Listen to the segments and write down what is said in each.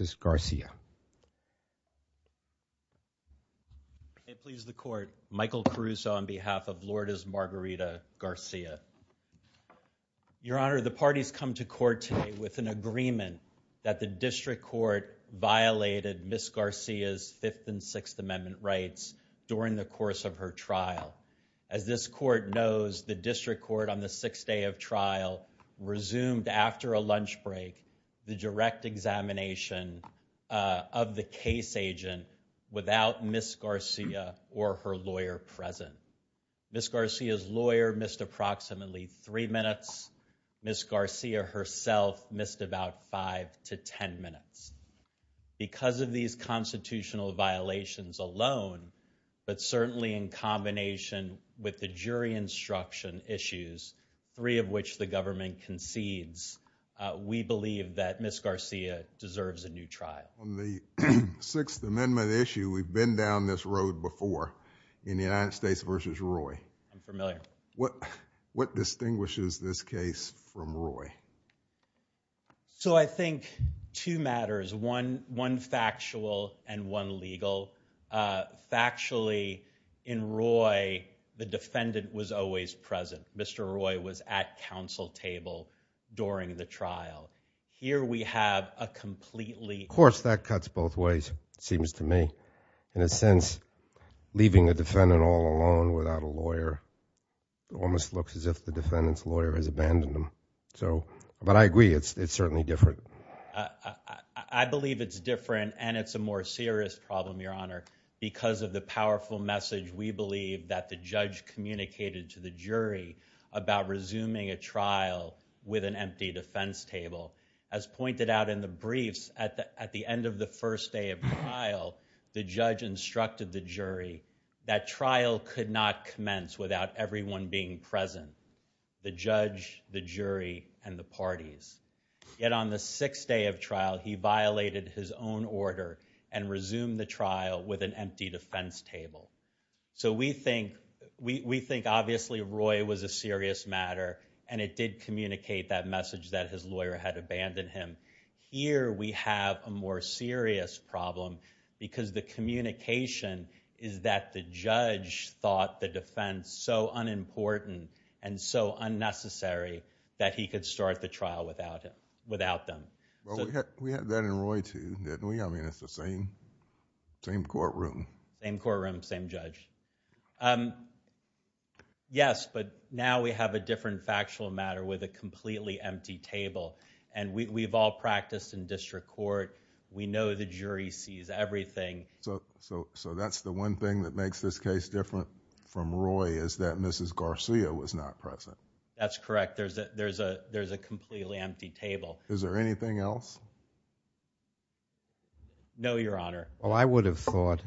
It pleases the court, Michael Caruso on behalf of Lourdes Margarita Garcia. Your Honor, the parties come to court today with an agreement that the district court violated Ms. Garcia's Fifth and Sixth Amendment rights during the course of her trial. As this court knows, the district court on the sixth day of trial resumed after a lunch break the direct examination of the case agent without Ms. Garcia or her lawyer present. Ms. Garcia's lawyer missed approximately three minutes. Ms. Garcia herself missed about five to ten minutes. Because of these constitutional violations alone, but certainly in combination with the concedes, we believe that Ms. Garcia deserves a new trial. On the Sixth Amendment issue, we've been down this road before in the United States versus Roy. I'm familiar. What what distinguishes this case from Roy? So I think two matters, one factual and one legal. Factually, in Roy, the defendant was always present. Mr. Roy was at counsel table during the trial. Here we have a completely... Of course, that cuts both ways, seems to me. In a sense, leaving a defendant all alone without a lawyer almost looks as if the defendant's lawyer has abandoned him. So, but I agree, it's certainly different. I believe it's different and it's a more serious problem, Your Honor, because of the to the jury about resuming a trial with an empty defense table. As pointed out in the briefs, at the end of the first day of trial, the judge instructed the jury that trial could not commence without everyone being present. The judge, the jury, and the parties. Yet on the sixth day of trial, he violated his own order and resumed the trial with an empty defense table. So we think, we think obviously Roy was a serious matter and it did communicate that message that his lawyer had abandoned him. Here we have a more serious problem because the communication is that the judge thought the defense so unimportant and so unnecessary that he could start the trial without it, without them. Well, we I mean it's the same, same courtroom. Same courtroom, same judge. Yes, but now we have a different factual matter with a completely empty table and we've all practiced in district court. We know the jury sees everything. So, so that's the one thing that makes this case different from Roy is that Mrs. Garcia was not present. That's correct. There's a, there's a, there's a completely empty table. Is there anything else? No, your honor. Well, I would have thought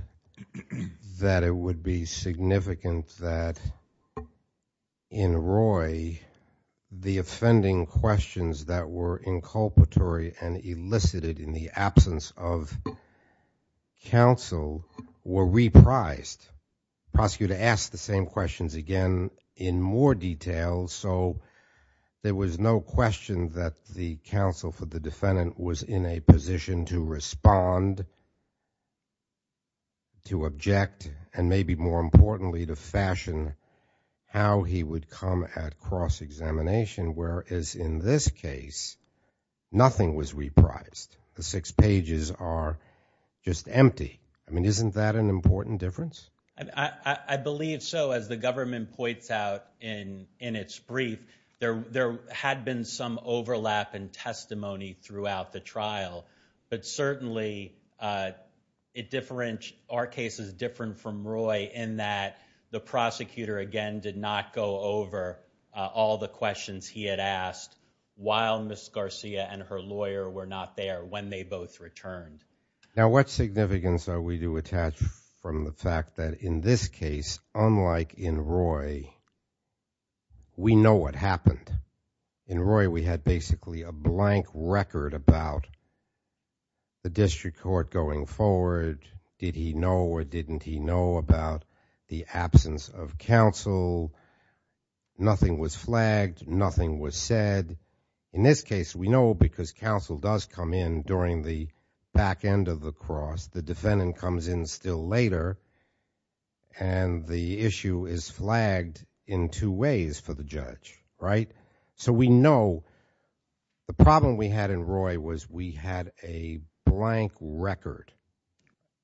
that it would be significant that in Roy the offending questions that were inculpatory and elicited in the absence of counsel were reprised. Prosecutor asked the same questions again in more detail, so there was no question that the counsel for the defendant was in a position to respond, to object, and maybe more importantly to fashion how he would come at cross-examination, whereas in this case nothing was reprised. The six pages are just empty. I mean isn't that an important difference? I believe so. As the government points out in, in its brief, there, there had been some overlap in testimony throughout the trial, but certainly it different, our case is different from Roy in that the prosecutor again did not go over all the questions he had asked while Mrs. Garcia and her lawyer were not there when they both returned. Now what significance are we to attach from the fact that in this case, unlike in Roy, we know what happened. In Roy we had basically a blank record about the district court going forward. Did he know or didn't he know about the absence of counsel? Nothing was flagged, nothing was said. In this case we know because counsel does come in during the back end of the cross, the defendant comes in still later, and the issue is flagged in two ways for the judge, right? So we know the problem we had in Roy was we had a blank record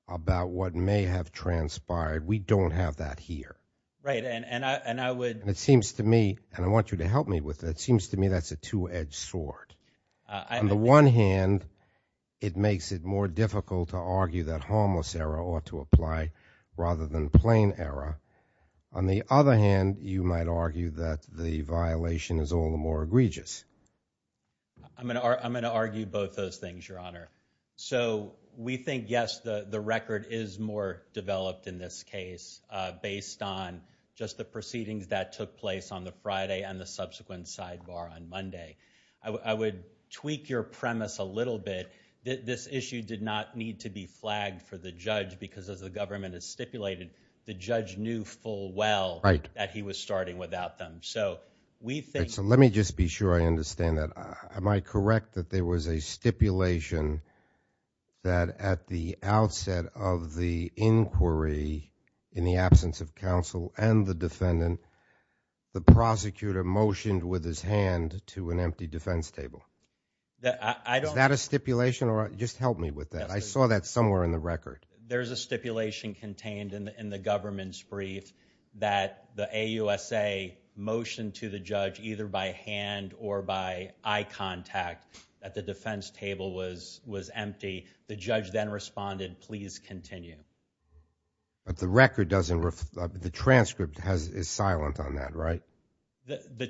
about what may have transpired. We don't have that here. Right, and I, and I would, it seems to me, and I want you to help me with it, it makes it more difficult to argue that harmless error ought to apply rather than plain error. On the other hand, you might argue that the violation is all the more egregious. I'm gonna argue both those things, Your Honor. So we think, yes, the record is more developed in this case based on just the proceedings that took place on the Friday and the subsequent sidebar on Monday. I would tweak your this issue did not need to be flagged for the judge because as the government has stipulated, the judge knew full well that he was starting without them. So we think, so let me just be sure I understand that. Am I correct that there was a stipulation that at the outset of the inquiry, in the absence of counsel and the defendant, the prosecutor motioned with his hand to an empty defense table? Is that a stipulation? Just help me with that. I saw that somewhere in the record. There's a stipulation contained in the government's brief that the AUSA motioned to the judge either by hand or by eye contact that the defense table was was empty. The judge then responded, please continue. But the record doesn't, the transcript is silent on that, right? The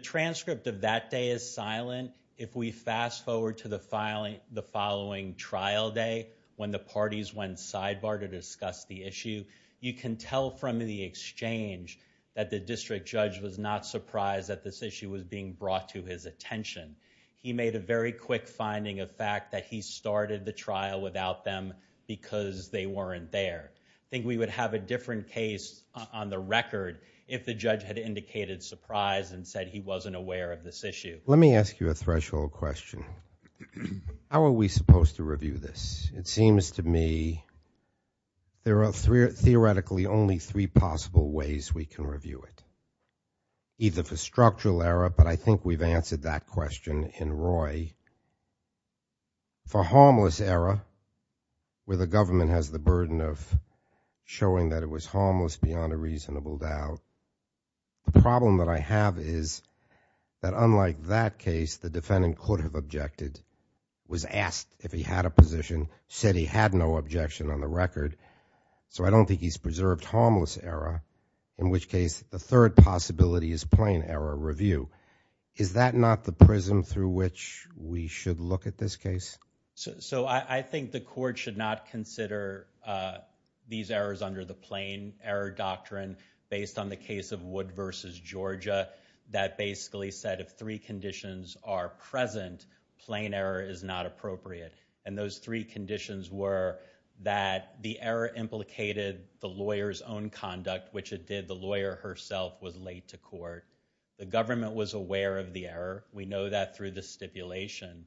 if we fast forward to the filing the following trial day when the parties went sidebar to discuss the issue, you can tell from the exchange that the district judge was not surprised that this issue was being brought to his attention. He made a very quick finding of fact that he started the trial without them because they weren't there. I think we would have a different case on the record if the judge had indicated surprise and said he wasn't aware of this issue. Let me ask you a threshold question. How are we supposed to review this? It seems to me there are theoretically only three possible ways we can review it. Either for structural error, but I think we've answered that question in Roy. For harmless error, where the government has the burden of showing that it was harmless beyond a reasonable doubt. The problem that I have is that unlike that case, the defendant could have objected, was asked if he had a position, said he had no objection on the record. So I don't think he's preserved harmless error, in which case the third possibility is plain error review. Is that not the prism through which we should look at this case? So I think the court should not consider these errors under the plain error doctrine based on the case of Wood v. Georgia that basically said if three conditions are present, plain error is not appropriate. And those three conditions were that the error implicated the lawyer's own conduct, which it did the lawyer herself was late to court. The government was aware of the stipulation,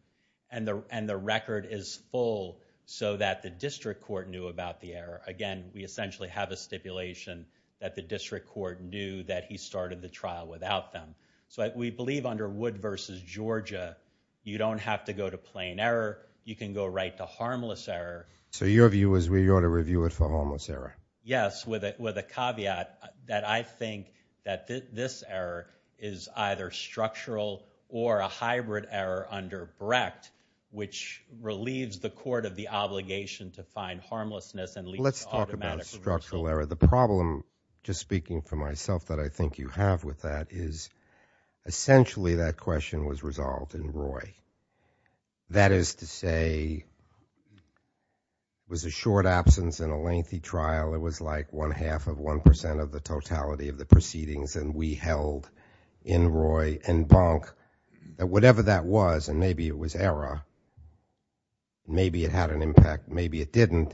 and the record is full so that the district court knew about the error. Again, we essentially have a stipulation that the district court knew that he started the trial without them. So we believe under Wood v. Georgia, you don't have to go to plain error, you can go right to harmless error. So your view is we ought to review it for harmless error? Yes, with it with a caveat that I think that this error is either structural or a hybrid error under Brecht, which relieves the court of the obligation to find harmlessness. Let's talk about structural error. The problem, just speaking for myself, that I think you have with that is essentially that question was resolved in Roy. That is to say, it was a short absence in a lengthy trial. It was like one-half of one percent of the totality of the was and maybe it was error. Maybe it had an impact, maybe it didn't.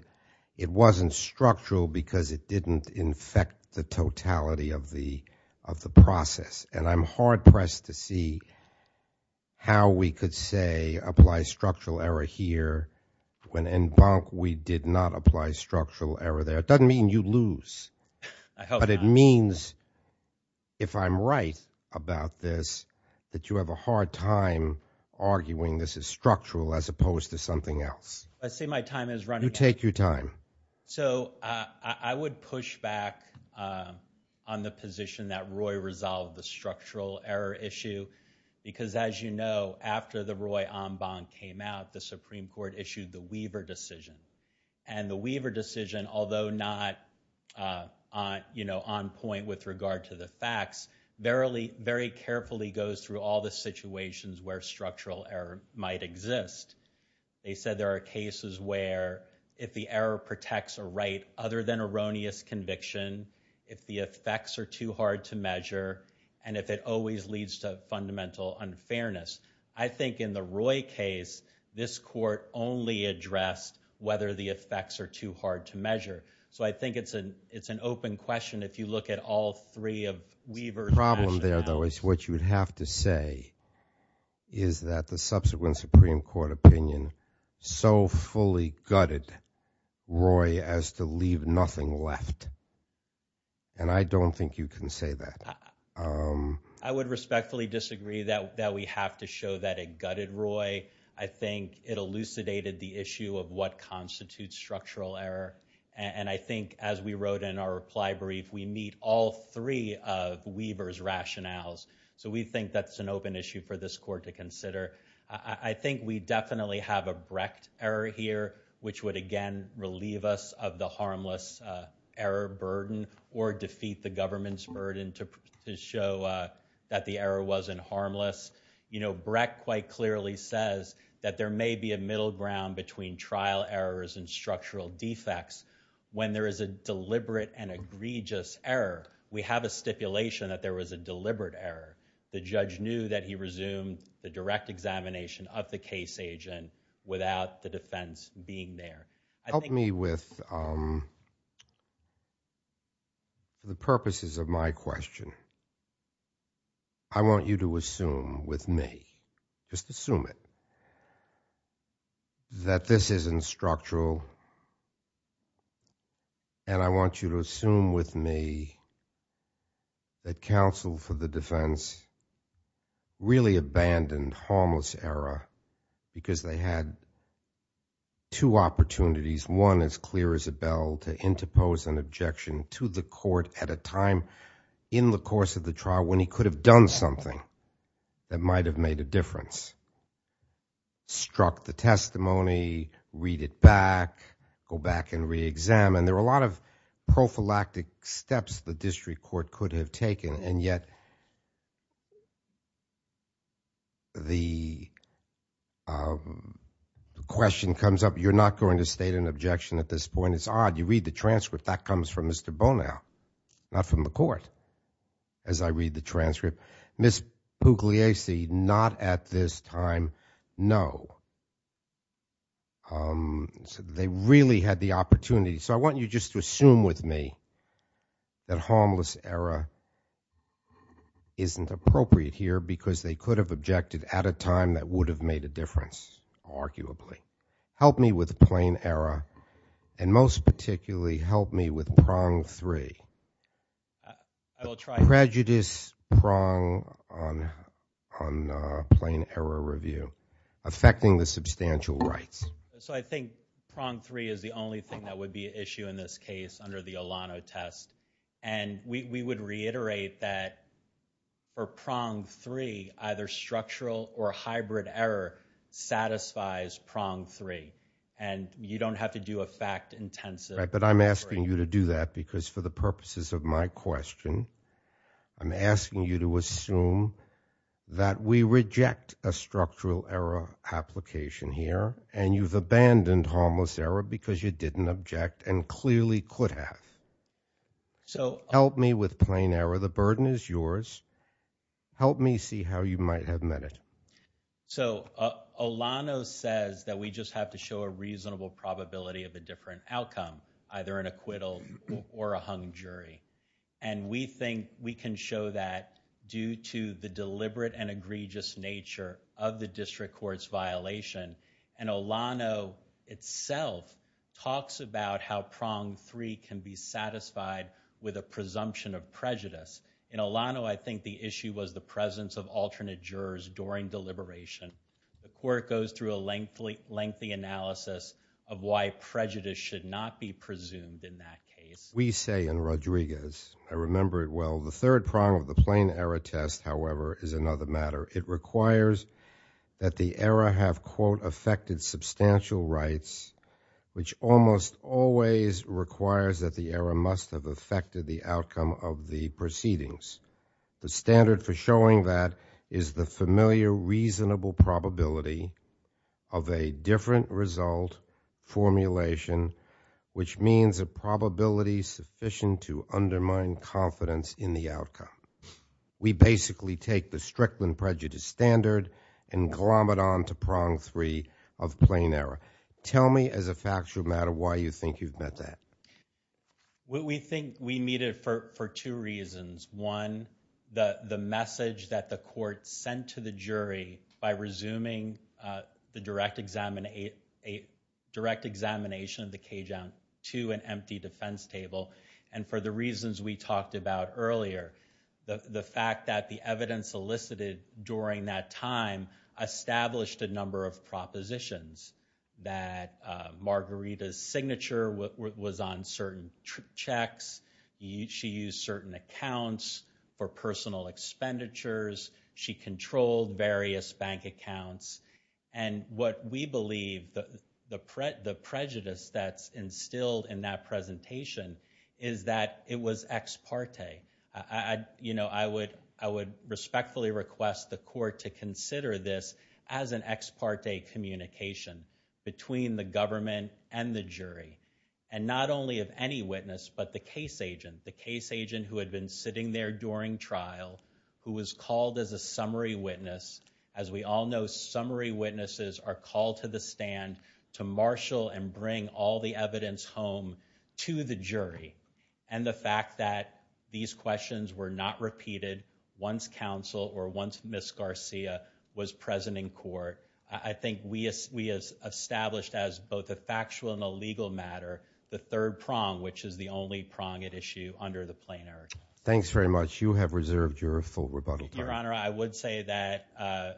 It wasn't structural because it didn't infect the totality of the of the process. And I'm hard-pressed to see how we could say apply structural error here, when in Bonk we did not apply structural error there. It doesn't mean you lose, but it means if I'm right about this, that you have a hard time arguing this is structural as opposed to something else. I see my time is running. You take your time. So I would push back on the position that Roy resolved the structural error issue because as you know, after the Roy Ambon came out, the Supreme Court issued the Weaver decision. And the Weaver decision, although not, you know, on point with regard to the facts, very carefully goes through all the situations where structural error might exist. They said there are cases where if the error protects a right other than erroneous conviction, if the effects are too hard to measure, and if it always leads to fundamental unfairness. I think in the Roy case, this court only addressed whether the effects are too hard to measure. The problem there, though, is what you would have to say is that the subsequent Supreme Court opinion so fully gutted Roy as to leave nothing left. And I don't think you can say that. I would respectfully disagree that we have to show that it gutted Roy. I think it elucidated the issue of what constitutes structural error. And I think as we wrote in our reply brief, we need all three of Weaver's rationales. So we think that's an open issue for this court to consider. I think we definitely have a Brecht error here, which would again relieve us of the harmless error burden or defeat the government's burden to show that the error wasn't harmless. You know, Brecht quite clearly says that there may be a middle ground between trial errors and structural defects when there is a deliberate and egregious error. We have a stipulation that there was a deliberate error. The judge knew that he resumed the direct examination of the case agent without the defense being there. Help me with the purposes of my question. I want you to assume with me, just assume it, that this isn't structural. And I want you to assume with me that counsel for the defense really abandoned harmless error because they had two opportunities, one as clear as a bell, to interpose an objection to the court at a time in the course of the trial when he could have done something that might have made a read it back, go back and re-examine. There were a lot of prophylactic steps the district court could have taken and yet the question comes up, you're not going to state an objection at this point. It's odd. You read the transcript. That comes from Mr. Bonow, not from the court. As I read the transcript, Ms. Bonow, they really had the opportunity. So I want you just to assume with me that harmless error isn't appropriate here because they could have objected at a time that would have made a difference, arguably. Help me with plain error and most particularly help me with prong three. Prejudice prong on plain error review affecting the substantial rights. So I think prong three is the only thing that would be an issue in this case under the Olano test and we would reiterate that for prong three either structural or hybrid error satisfies prong three and you don't have to do a fact intensive. But I'm asking you to do that because for the purposes of my question, I'm asking you to assume that we reject a structural error application here and you've abandoned harmless error because you didn't object and clearly could have. So help me with plain error. The burden is yours. Help me see how you might have met it. So Olano says that we just have to show a reasonable probability of a different outcome, either an acquittal or a hung jury and we think we can show that due to the egregious nature of the district court's violation and Olano itself talks about how prong three can be satisfied with a presumption of prejudice. In Olano, I think the issue was the presence of alternate jurors during deliberation. The court goes through a lengthy analysis of why prejudice should not be presumed in that case. We say in Rodriguez, I remember it well, the third prong of the plain error test, however, is another matter. It requires that the error have, quote, affected substantial rights, which almost always requires that the error must have affected the outcome of the proceedings. The standard for showing that is the familiar reasonable probability of a different result formulation, which means a probability sufficient to undermine confidence in the outcome. We basically take the Strickland prejudice standard and glom it on to prong three of plain error. Tell me as a factual matter why you think you've met that. We think we meet it for two reasons. One, the message that the court sent to the jury by resuming the direct examination of the clear, the fact that the evidence elicited during that time established a number of propositions that Margarita's signature was on certain checks, she used certain accounts for personal expenditures, she controlled various bank accounts, and what we believe, the prejudice that's instilled in that I would respectfully request the court to consider this as an ex parte communication between the government and the jury, and not only of any witness, but the case agent, the case agent who had been sitting there during trial, who was called as a summary witness. As we all know, summary witnesses are called to the stand to marshal and bring all the evidence home to the jury, and the fact that these questions were not repeated once counsel or once Miss Garcia was present in court, I think we as we as established as both a factual and a legal matter, the third prong which is the only prong at issue under the plain error. Thanks very much. You have reserved your full rebuttal. Your Honor, I would say that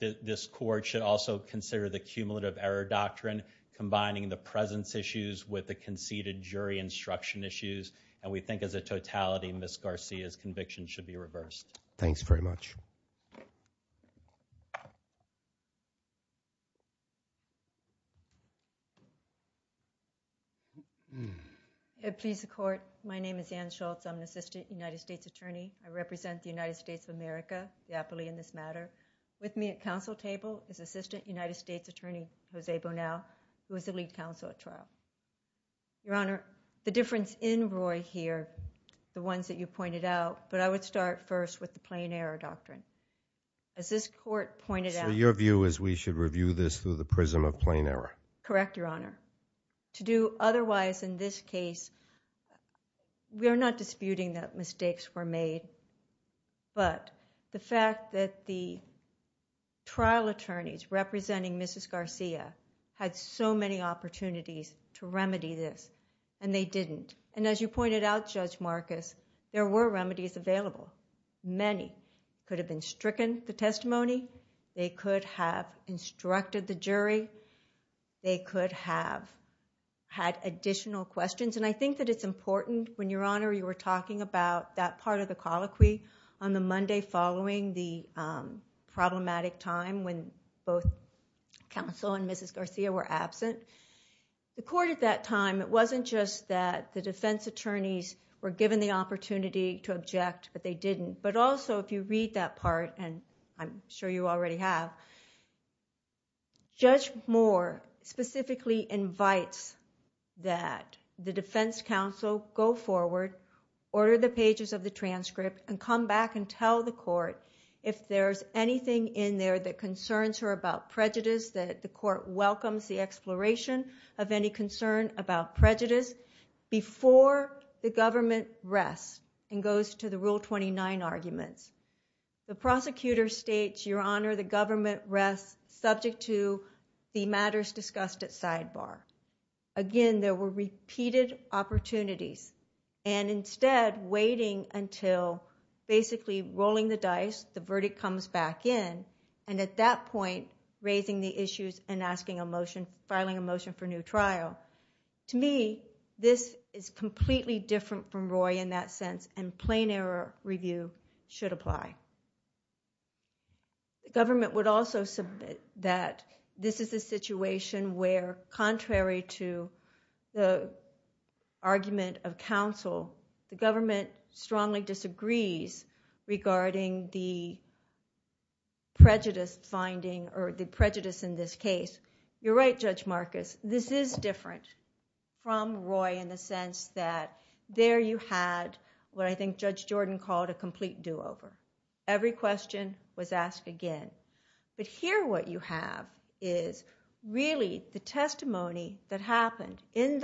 this court should also consider the cumulative error doctrine combining the presence issues with the conceded jury instruction issues, and we think of the totality in Miss Garcia's conviction should be reversed. Thanks very much. It pleads the court, my name is Ann Schultz, I'm an assistant United States attorney, I represent the United States of America, the appealee in this matter. With me at counsel table is assistant United States attorney Jose Bonnell, who is the lead counsel at trial. Your Honor, the difference in Roy here, the ones that you pointed out, but I would start first with the plain error doctrine. As this court pointed out... So your view is we should review this through the prism of plain error? Correct, Your Honor. To do otherwise in this case, we are not disputing that mistakes were made, but the fact that the trial attorneys representing Mrs. Garcia had so many opportunities to remedy this, and they didn't. And as you pointed out, Judge Marcus, there were remedies available. Many could have been stricken the testimony, they could have instructed the jury, they could have had additional questions, and I think that it's important when, Your Honor, you were talking about that part of the both counsel and Mrs. Garcia were absent. The court at that time, it wasn't just that the defense attorneys were given the opportunity to object, but they didn't. But also, if you read that part, and I'm sure you already have, Judge Moore specifically invites that the defense counsel go forward, order the pages of the transcript, and come back and tell the court if there's anything in there that concerns her about prejudice, that the court welcomes the exploration of any concern about prejudice, before the government rests and goes to the Rule 29 argument. The prosecutor states, Your Honor, the government rests subject to the matters discussed at sidebar. Again, there were repeated opportunities, and instead of waiting until basically rolling the dice, the verdict comes back in, and at that point, raising the issues and asking a motion, filing a motion for new trial. To me, this is completely different from Roy in that sense, and plain error review should apply. The government would also submit that this is a situation where, contrary to the argument of counsel, the government strongly disagrees regarding the prejudice finding, or the prejudice in this case. You're right, Judge Marcus, this is different from Roy in the sense that there you had what I think Judge Jordan called a complete do-over. Every question was asked again. But here what you have is really the testimony that happened in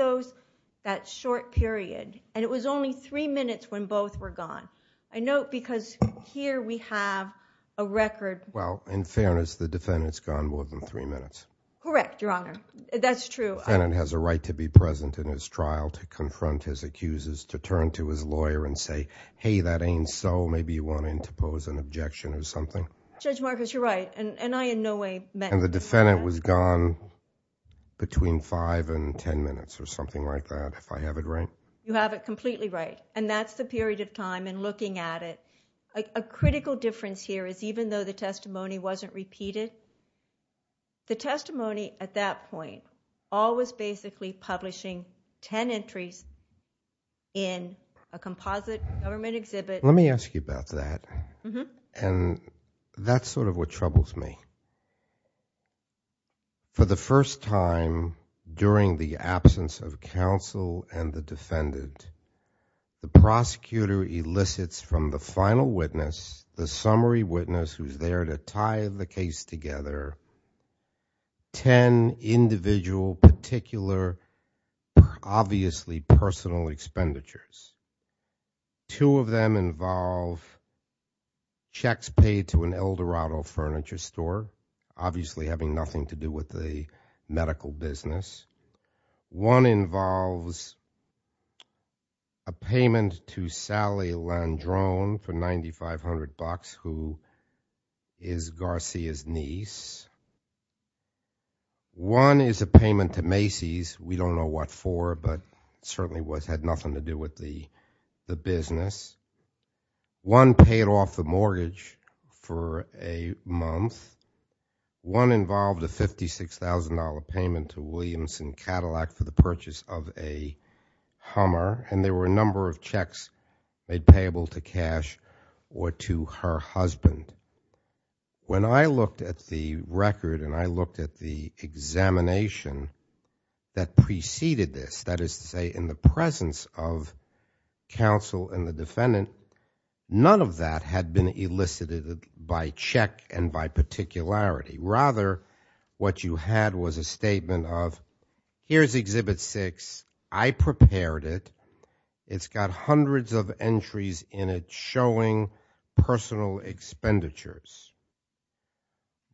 that short period, and it was only three minutes when both were gone. I note because here we have a record. Well, in fairness, the defendant's gone more than three minutes. Correct, Your Honor, that's true. The defendant has a right to be present in his trial to confront his accusers, to turn to his lawyer and say, hey, that ain't so. Maybe you want him to defend it was gone between five and ten minutes or something like that, if I have it right. You have it completely right, and that's the period of time in looking at it. A critical difference here is even though the testimony wasn't repeated, the testimony at that point, all was basically publishing ten entries in a composite government exhibit. Let me ask you about that, and that's sort of what troubles me. For the first time during the absence of counsel and the defendant, the prosecutor elicits from the final witness, the summary witness who's there to tie the case together, ten individual particular, obviously personal expenditures. Two of them involve checks paid to an Eldorado furniture store, obviously having nothing to do with the medical business. One involves a payment to Sally Landrone for $9,500, who is Garcia's niece. One is a payment to Macy's, we don't know what for, but certainly had nothing to do with the business. One paid off the mortgage for a month. One involved a $56,000 payment to Williamson Cadillac for the purchase of a Hummer, and there were a number of checks made payable to cash or to her husband. When I looked at the record and I looked at the examination that preceded this, that is to say in the presence of counsel and the defendant, none of that had been elicited by check and by particularity. Rather, what you had was a statement of, here's exhibit six, I prepared it, it's got hundreds of entries in it showing personal expenditures.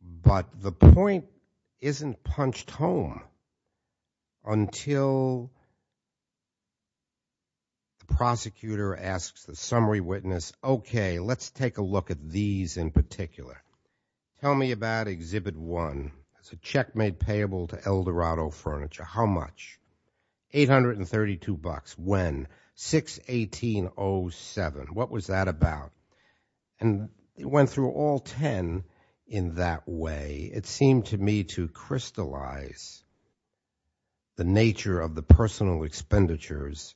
But the point isn't punched home until the prosecutor asks the summary witness, okay, let's take a look at these in particular. Tell me about exhibit one. It's a check made payable to $832. When? 6-18-07. What was that about? And it went through all 10 in that way. It seemed to me to crystallize the nature of the personal expenditures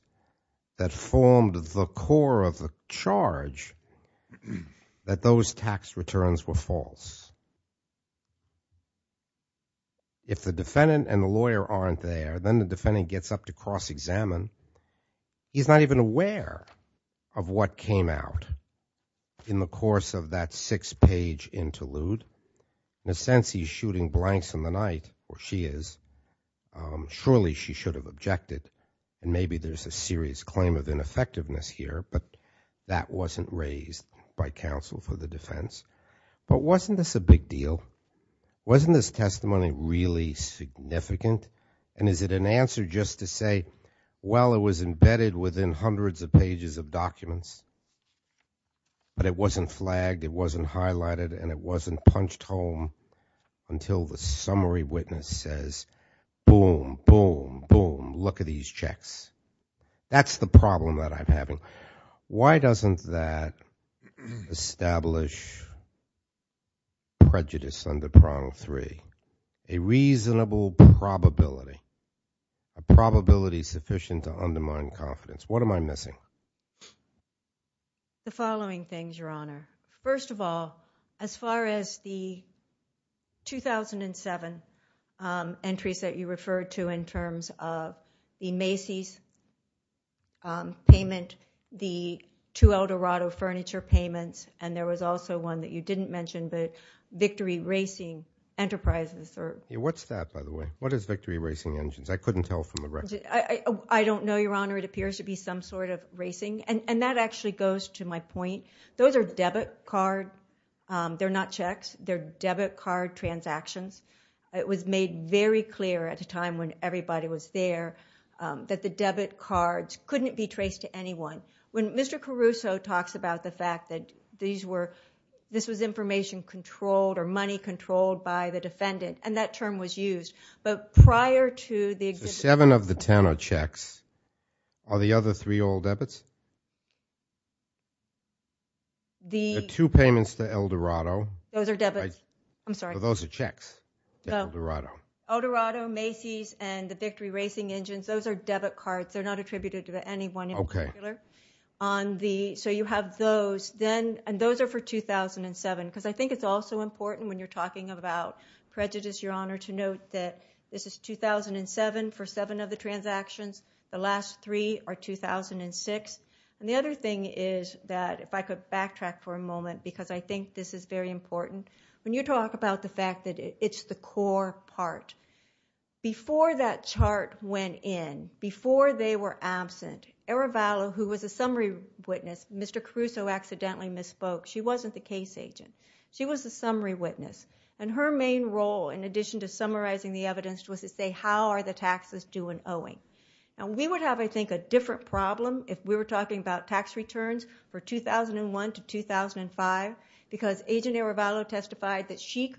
that formed the core of the charge that those tax returns were false. If the defendant and the lawyer aren't there, then the defendant gets up to cross-examine. He's not even aware of what came out in the course of that six-page interlude. In a sense, he's shooting blanks in the night, or she is. Surely she should have objected, and maybe there's a serious claim of ineffectiveness here, but that wasn't raised by counsel for the defense. But wasn't this a big deal? Wasn't this testimony really significant? And is it an answer just to say, well, it was embedded within hundreds of pages of documents, but it wasn't flagged, it wasn't highlighted, and it wasn't punched home until the summary witness says, boom, boom, boom, look at these checks. That's the problem that I'm having. Why doesn't that establish prejudice under prong three, a reasonable probability, a probability sufficient to undermine confidence? What am I missing? The following things, Your Honor. First of all, as far as the 2007 entries that you referred to in terms of the Macy's payment, the two Eldorado furniture payments, and there was also one that you didn't mention, the Victory Racing Enterprises. What's that, by the way? What is Victory Racing Engines? I couldn't tell from the record. I don't know, Your Honor. It appears to be some sort of racing, and that actually goes to my point. Those are debit cards. They're not checks. They're debit card transactions. It was made very clear at the time when everybody was there that the debit cards couldn't be used. This was information controlled or money controlled by the defendant, and that term was used. But prior to the existence of the... So seven of the ten are checks. Are the other three all debits? The two payments to Eldorado... Those are debits. I'm sorry. So those are checks to Eldorado. Eldorado, Macy's, and the Victory Racing Engines, those are debit cards. They're not attributed to anyone in particular. So you have those, and those are for 2007, because I think it's also important when you're talking about prejudice, Your Honor, to note that this is 2007 for seven of the transactions. The last three are 2006. The other thing is that, if I could backtrack for a moment, because I think this is very important, when you talk about the fact that it's the core part, before that chart went in, before they were absent, Arevalo, who was a summary witness, Mr. Caruso accidentally misspoke. She wasn't the case agent. She was a summary witness. And her main role, in addition to summarizing the evidence, was to say, how are the taxes due and owing? And we would have, I think, a different problem if we were talking about tax returns for 2001 to 2005, because Agent Arevalo testified that she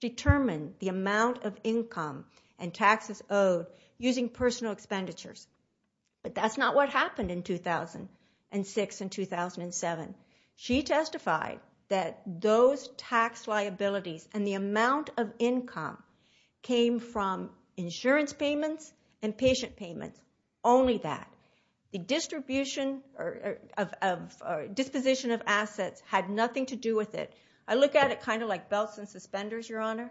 determined the amount of income and taxes owed using personal expenditures. But that's not what happened in 2006 and 2007. She testified that those tax liabilities and the amount of income came from insurance payments and patient payments, only that. The disposition of assets had nothing to do with it. I look at it kind of like belts and suspenders, Your Honor.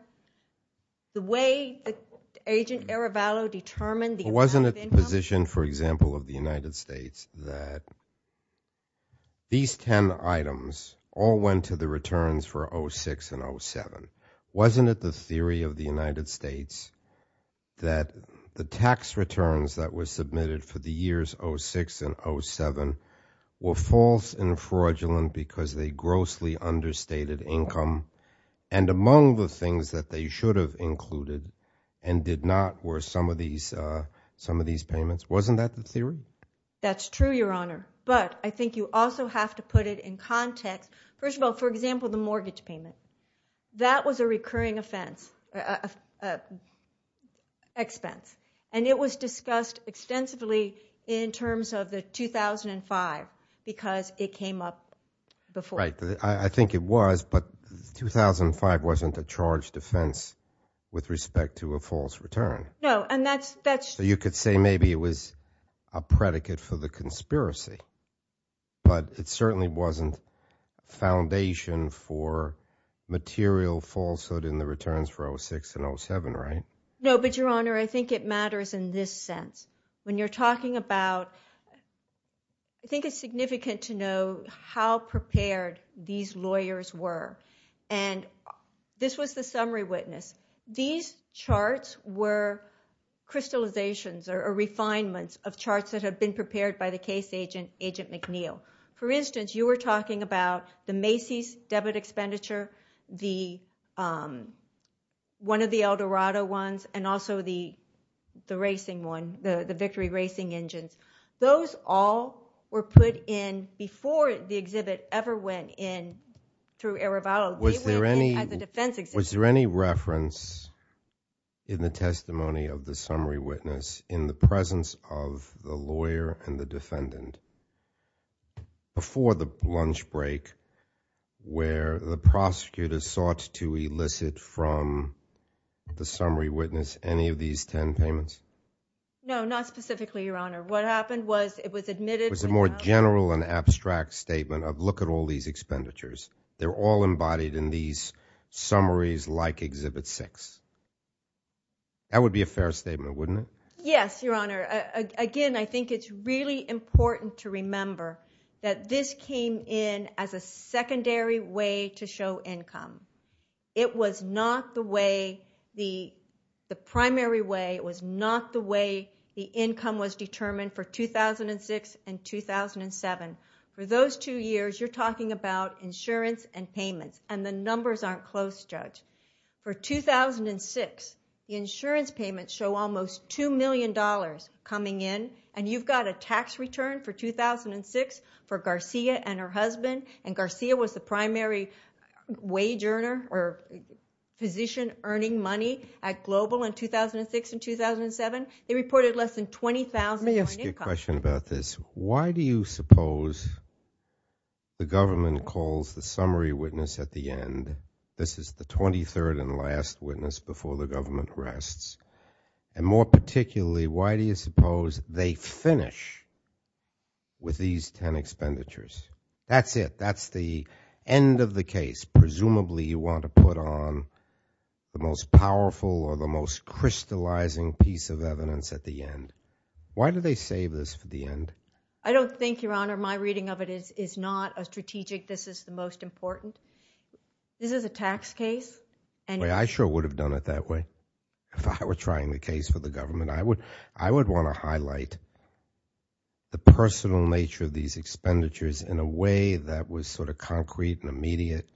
The way that Agent Arevalo determined the amount of income... Wasn't it the position, for example, of the United States that these 10 items all went to the returns for 2006 and 2007? Wasn't it the theory of the United States that the tax returns that were submitted for the years 2006 and 2007 were false and fraudulent because they grossly understated income? And among the things that they should have included and did not were some of these payments. Wasn't that the theory? That's true, Your Honor. But I think you also have to put it in context. First of all, for example, the mortgage payment. That was a recurring expense. And it was discussed extensively in terms of the 2005 because it came up before. I think it was, but 2005 wasn't a charged offense with respect to a false return. You could say maybe it was a predicate for the conspiracy, but it certainly wasn't foundation for material falsehood in the returns for 2006 and 2007, right? No, but Your Honor, I think it matters in this sense. When you're talking about... I think it's significant to know how prepared these lawyers were. And this was the summary witness. These charts were crystallizations or refinements of charts that had been prepared by the case agent, Agent McNeil. For instance, you were talking about the Macy's debit expenditure, the one of the Eldorado ones, and also the racing one, the victory racing engine. Those all were put in before the exhibit ever went in through Erivalo. They went in as a defense exhibit. Was there any reference in the testimony of the summary witness in the presence of the prosecutor's thoughts to elicit from the summary witness any of these 10 payments? No, not specifically, Your Honor. What happened was it was admitted... Was it a more general and abstract statement of, look at all these expenditures. They're all embodied in these summaries like exhibit six. That would be a fair statement, wouldn't it? Yes, Your Honor. Again, I think it's really important to remember that this came in as a secondary way to show income. It was not the way, the primary way, it was not the way the income was determined for 2006 and 2007. For those two years, you're talking about insurance and payment, and the numbers aren't close, Judge. For 2006, the insurance payments show almost $2 million coming in, and you've got a tax return for 2006 for Garcia and her husband, and Garcia was the primary wage earner or position earning money at Global in 2006 and 2007. They reported less than $20,000 in income. Let me ask you a question about this. Why do you suppose the government calls the summary witness at the end, this is the 23rd and last witness before the government rests, and more that's it. That's the end of the case. Presumably, you want to put on the most powerful or the most crystallizing piece of evidence at the end. Why do they save this for the end? I don't think, Your Honor, my reading of it is not a strategic, this is the most important. This is a tax case. I sure would have done it that way if I were trying the case for the government. I would want to highlight the personal nature of these expenditures in a way that was sort of concrete and immediate.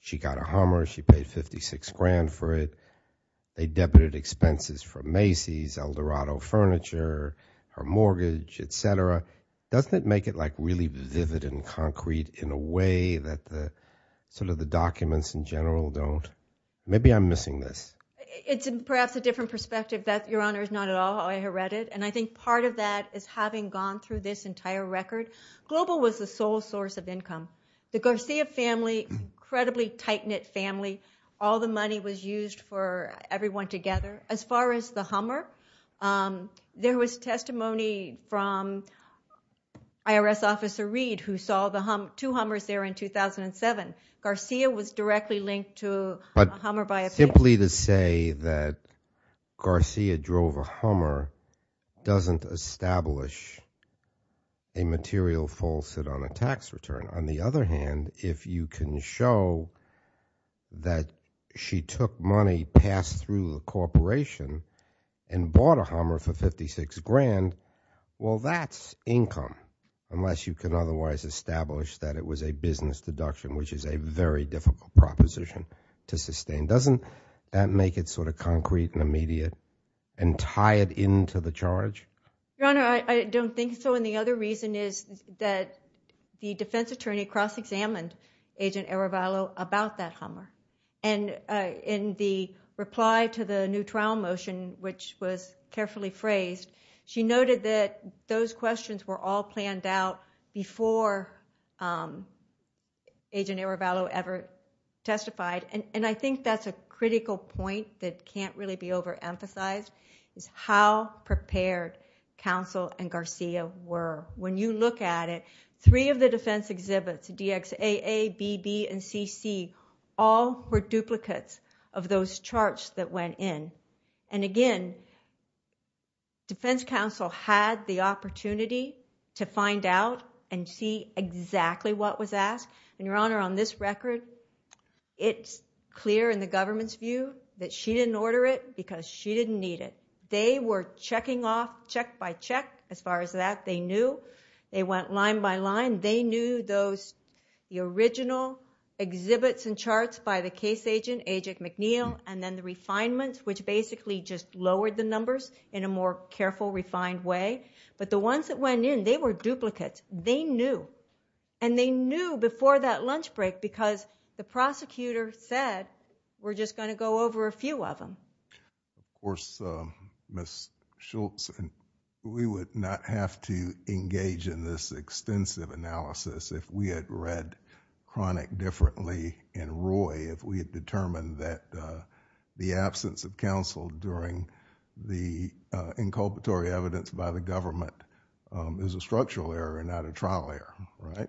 She got a Hummer, she paid $56,000 for it, they debited expenses for Macy's, Eldorado Furniture, her mortgage, etc. Doesn't it make it like really vivid and concrete in a way that the documents in general don't? Maybe I'm missing this. It's perhaps a different perspective. That, Your Honor, is not at all how I read it, and I think part of that is having gone through this entire record. Global was the sole source of income. The Garcia family, incredibly tight-knit family, all the money was used for everyone together. As far as the Hummer, there was testimony from IRS Officer Reed who saw two Hummers there in 2007. Garcia was directly linked to a Hummer by a person. But simply to say that Garcia drove a Hummer doesn't establish a material fault on a tax return. On the other hand, if you can show that she took money passed through a corporation and bought a Hummer for $56,000, well, that's income, unless you can otherwise establish that it was a business deduction, which is a very difficult proposition to sustain. Doesn't that make it sort of concrete and immediate and tie it into the charge? Your Honor, I don't think so, and the other reason is that the defense attorney cross-examined Agent Arevalo about that Hummer. In the reply to the new trial motion, which was carefully phrased, she noted that those questions were all planned out before Agent Arevalo ever testified. I think that's a critical point that can't really be overemphasized, is how prepared Counsel and Garcia were. When you look at it, three of the defense exhibits, DXAA, BB, and CC, all were duplicates of those charts that went in. Again, defense counsel had the opportunity to find out and see exactly what was asked. Your Honor, on this record, it's clear in the government's view that she didn't order it because she didn't need it. They were checking off, check by check, as far as that they knew. They went line by line. They knew the original exhibits and charts by the case agent, Agent Arevalo, and they basically just lowered the numbers in a more careful, refined way. But the ones that went in, they were duplicates. They knew. They knew before that lunch break because the prosecutor said, we're just going to go over a few of them. Of course, Ms. Schultz, we would not have to engage in this extensive analysis if we had read Chronic differently and Roy, if we had determined that the absence of counsel during the inculpatory evidence by the government is a structural error and not a trial error, right?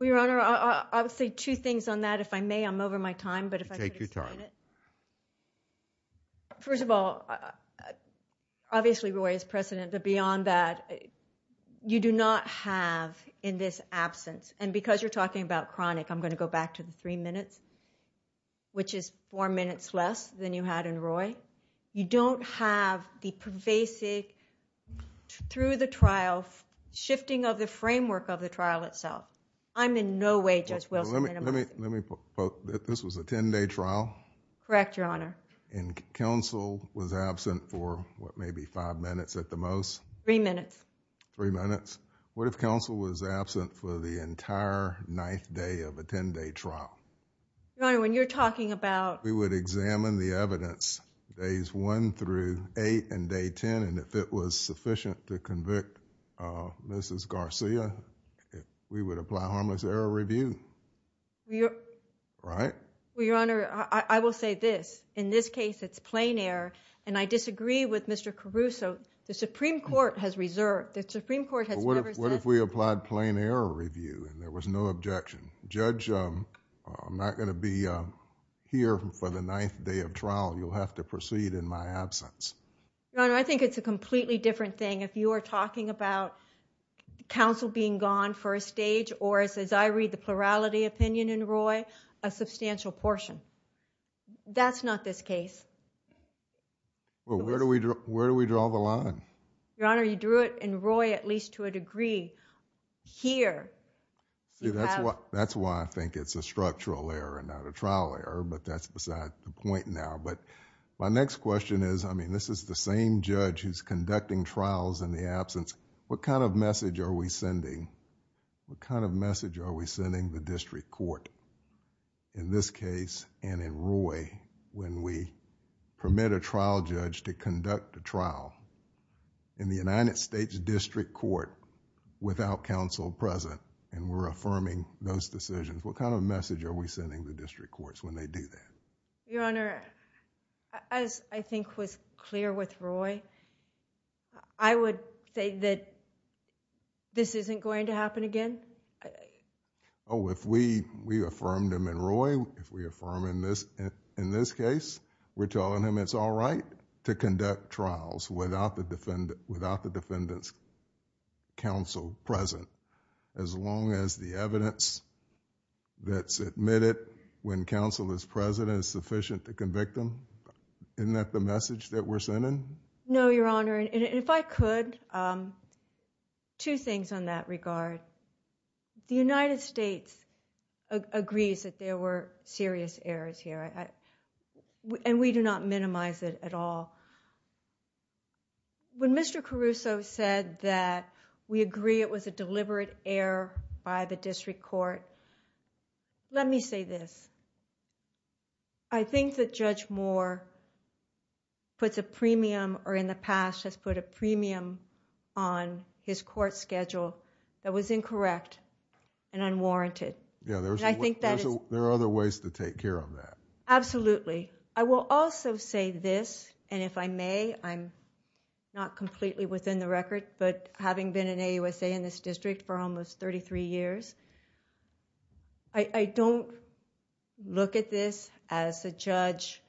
Well, Your Honor, I'll say two things on that. If I may, I'm over my time, but if I could take your time. First of all, obviously Roy is precedent, but beyond that, you do not have in this absence, and because you're talking about Chronic, I'm going to go back to the three minutes, which is four minutes less than you had in Roy. You don't have the pervasive, through the trials, shifting of the framework of the trial itself. I'm in no way just welcoming them. Let me put both. This was a 10-day trial? Correct, Your Honor. And counsel was absent for, what, maybe five minutes at the most? Three minutes. Three minutes. What if counsel was absent for the entire ninth day of a 10-day trial? Your Honor, when you're talking about... We would examine the evidence days one through eight and day ten, and if it was sufficient to convict Mrs. Garcia, we would apply harmless error review, right? Well, Your Honor, I will say this. In this case, it's plain error, and I disagree with the Supreme Court. What if we applied plain error review and there was no objection? Judge, I'm not going to be here for the ninth day of trial. You'll have to proceed in my absence. Your Honor, I think it's a completely different thing if you are talking about counsel being gone for a stage, or as I read the plurality opinion in Roy, a substantial portion. That's not this case. Well, where do we draw the line? Your Honor, you drew it in Roy at least to a degree. Here, you have... That's why I think it's a structural error, not a trial error, but that's besides the point now. But my next question is, I mean, this is the same judge who's conducting trials in the absence. What kind of message are we sending? What kind of message are we sending the district court in this case and in Roy when we permit a trial judge to conduct the trial in the United States District Court without counsel present and we're affirming those decisions? What kind of message are we sending the district courts when they do that? Your Honor, as I think was clear with Roy, I would say that this isn't going to happen again. Oh, if we affirmed him in Roy, if we affirm in this case, we're telling him it's all right to conduct trials without the defendant's counsel present as long as the evidence that's admitted when counsel is present is sufficient to convict them. Isn't that the message that we're sending? No, Your Honor, and if I could, two things on that regard. The United States agrees that there were serious errors here and we do not minimize it at all. When Mr. Caruso said that we agree it was a deliberate error by the district court, let me say this. I think that Judge Moore puts a premium or in the past has put a premium on his court schedule that was incorrect and unwarranted. There are other ways to take care of that. Absolutely. I will also say this, and if I may, I'm not completely within the record, but having been an AUSA in this district for almost thirty-three years, I don't look at this as a judge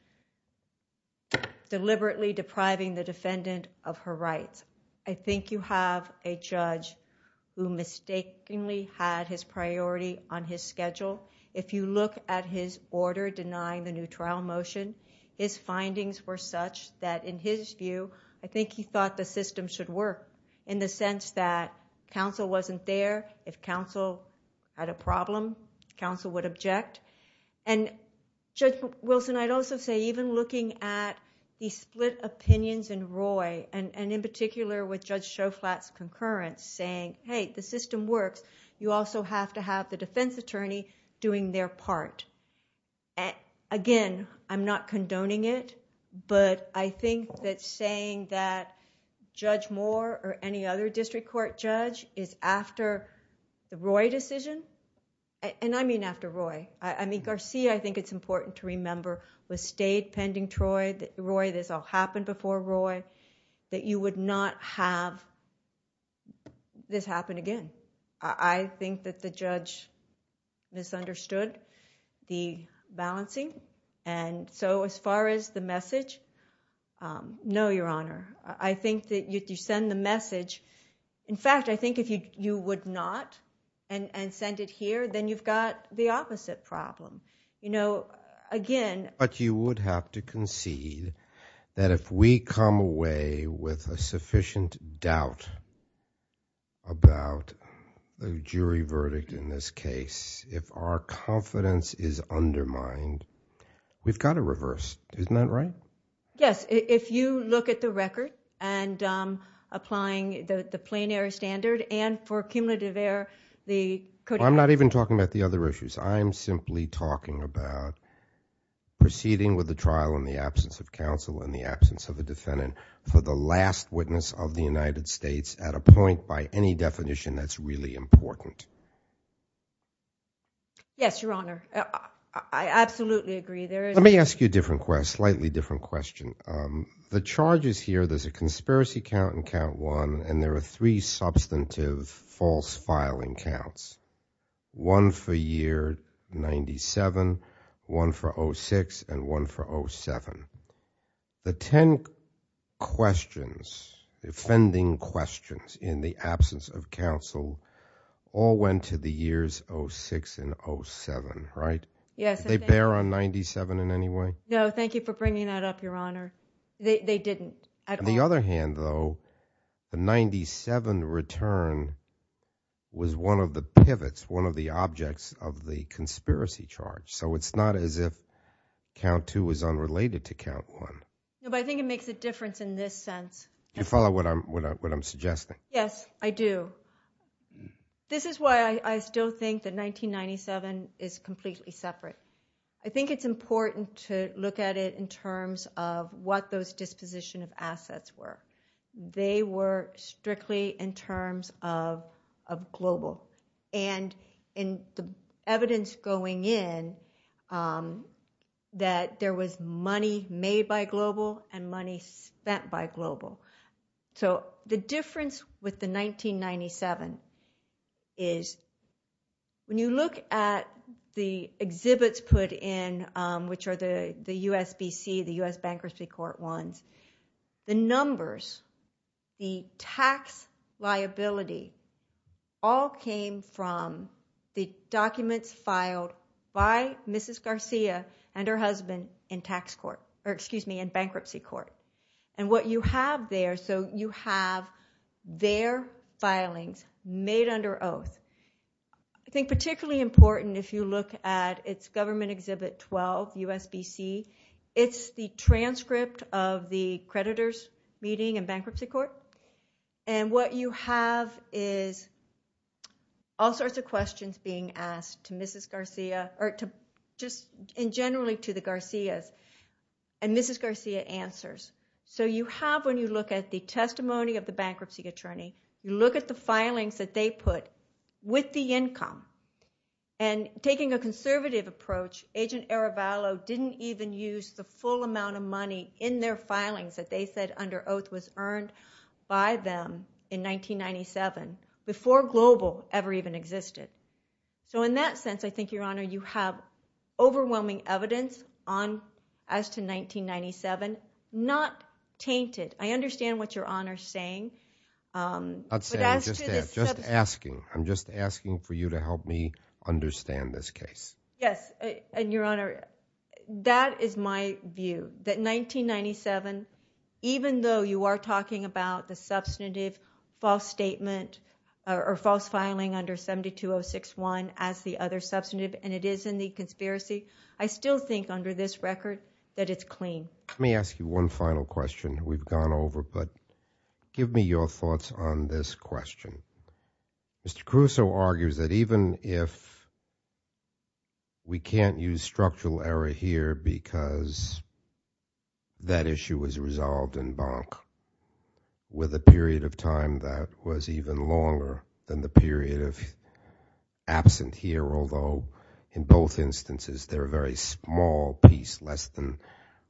deliberately depriving the defendant of her rights. I think you have a judge who mistakenly had his priority on his schedule. If you look at his order denying the new trial motion, his findings were such that in his view, I think he thought the system should work in the sense that counsel wasn't there. If counsel had a problem, counsel would object. Judge Wilson, I'd also say even looking at the split opinions in particular with Judge Shoflat's concurrence saying, hey, the system worked, you also have to have the defense attorney doing their part. Again, I'm not condoning it, but I think that saying that Judge Moore or any other district court judge is after the Roy decision, and I mean after Roy, I mean Garcia, I think it's important to remember with state pending Troy, that Roy, this all happened before Roy, that you would not have this happen again. I think that the judge misunderstood the balancing, and so as far as the message, no, Your Honor. I think that if you send the message, in fact, I think if you would not and send it here, then you've got the opposite problem. You know, again... But you would have to concede that if we come away with a sufficient doubt about the jury verdict in this case, if our confidence is undermined, we've got to reverse. Isn't that right? Yes. If you look at the record and applying the plain air standard and for cumulative air, the... I'm not even talking about the other issues. I'm simply talking about proceeding with the trial in the absence of counsel and the absence of a defendant for the last witness of the United States at a point by any definition that's really important. Yes, Your Honor. I absolutely agree. Let me ask you a slightly different question. The charges here, there's a conspiracy count and count one, and there are three substantive false filing counts, one for year 97, one for 06, and one for 07. The ten questions, the offending questions in the absence of counsel all went to the years 06 and 07, right? Yes. Did they bear on 97 in any way? No, thank you for bringing that up, Your Honor. They didn't. On the other hand, though, the 97 return was one of the pivots, one of the objects of the conspiracy charge, so it's not as if count two is unrelated to count one. No, but I think it makes a difference in this sense. Do you follow what I'm suggesting? Yes, I do. This is why I still think that 1997 is completely separate. I think it's They were strictly in terms of global. And in the evidence going in, that there was money made by global and money spent by global. So the difference with the 1997 is when you look at the exhibits put in, which are the USBC, the US Bankruptcy Court ones, they were the numbers, the tax liability all came from the documents filed by Mrs. Garcia and her husband in bankruptcy court. And what you have there, so you have their filings made under oath. I think particularly important if you look at its government exhibit 12, USBC, it's the transcript of the creditor's meeting in bankruptcy court. And what you have is all sorts of questions being asked to Mrs. Garcia, or just generally to the Garcias, and Mrs. Garcia answers. So you have, when you look at the testimony of the bankruptcy attorney, you look at the filings that they put with the income. And taking a conservative approach, Agent Arevalo didn't even use the full amount of money in their filings that they said under oath was earned by them in 1997, before global ever even existed. So in that sense, I think your honor, you have overwhelming evidence as to 1997, not tainted. I understand what your honor is saying. I'm just asking for you to help me understand this case. Yes, and your honor, that is my view. That 1997, even though you are talking about the substantive false statement, or false filing under 72061 as the other substantive, and it is in the conspiracy, I still think under this record that it's clean. Let me ask you one final question that we've gone over, but give me your thoughts on this one. We can't use structural error here because that issue was resolved in Bonn, with a period of time that was even longer than the period of absent here, although in both instances, they're a very small piece, less than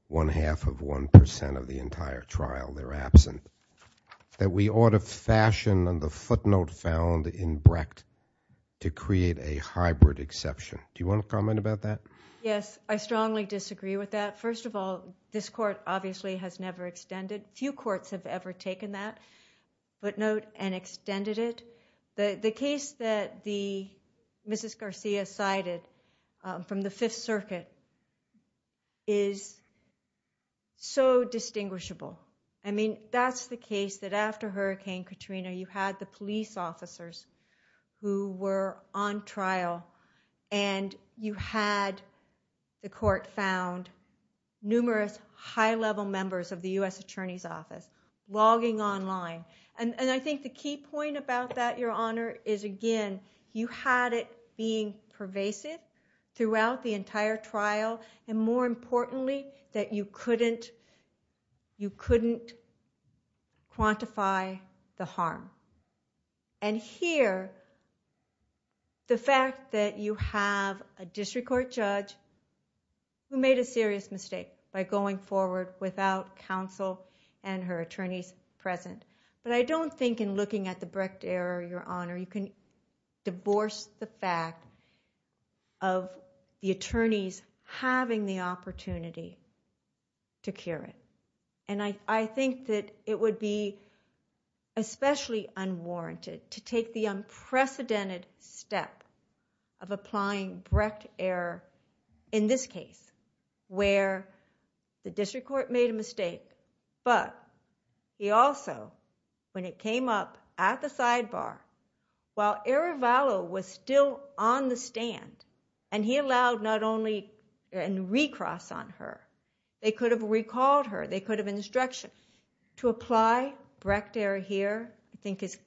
one half of 1% of the entire trial, they're absent. That we ought to fashion the footnote found in Brecht to create a hybrid exception. Do you want to comment about that? Yes, I strongly disagree with that. First of all, this court obviously has never extended, few courts have ever taken that footnote and extended it. The case that Mrs. Garcia cited from the 5th circuit is so distinguishable. I mean, that's the case that after Hurricane Katrina, you had the police officers who were on trial and you had the court found numerous high-level members of the U.S. Attorney's Office logging online. I think the key point about that, Your Honor, is again, you had it being pervasive throughout the entire trial, and more importantly, that you couldn't quantify the harm. And here, the fact that you have a district court judge who made a serious mistake by going forward without counsel and her attorney present. But I don't think in looking at the Brecht error, Your Honor, you can divorce the fact of the attorneys having the opportunity to cure it. And I think that it would be especially unwarranted to take the unprecedented step of applying Brecht error in this case, where the district court made a mistake, but he also, when it came up at the sidebar, while Arivalo was still on the stand and he allowed not only the attorney present, but the district attorney present, to come forward and recross on her. They could have recalled her. They could have instructed. To apply Brecht error here, I think it's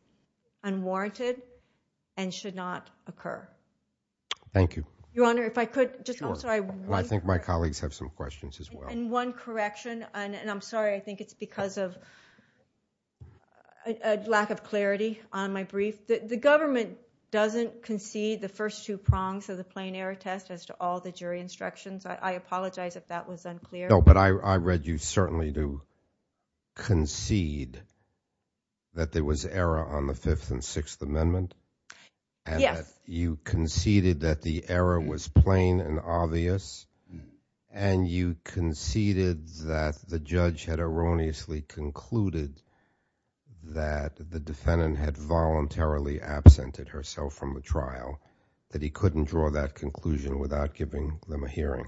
unwarranted and should not occur. Thank you. Your Honor, if I could, I'm sorry. I think my colleagues have some questions as well. In one correction, and I'm sorry, I think it's because of a lack of clarity on my brief. The government doesn't concede the first two prongs of the plain error test as to all the jury instructions, but I apologize if that was unclear. No, but I read you certainly do concede that there was error on the Fifth and Sixth Amendment. Yes. That you conceded that the error was plain and obvious, and you conceded that the judge had erroneously concluded that the defendant had voluntarily absented herself from the trial, that he couldn't draw that conclusion without giving them a hearing.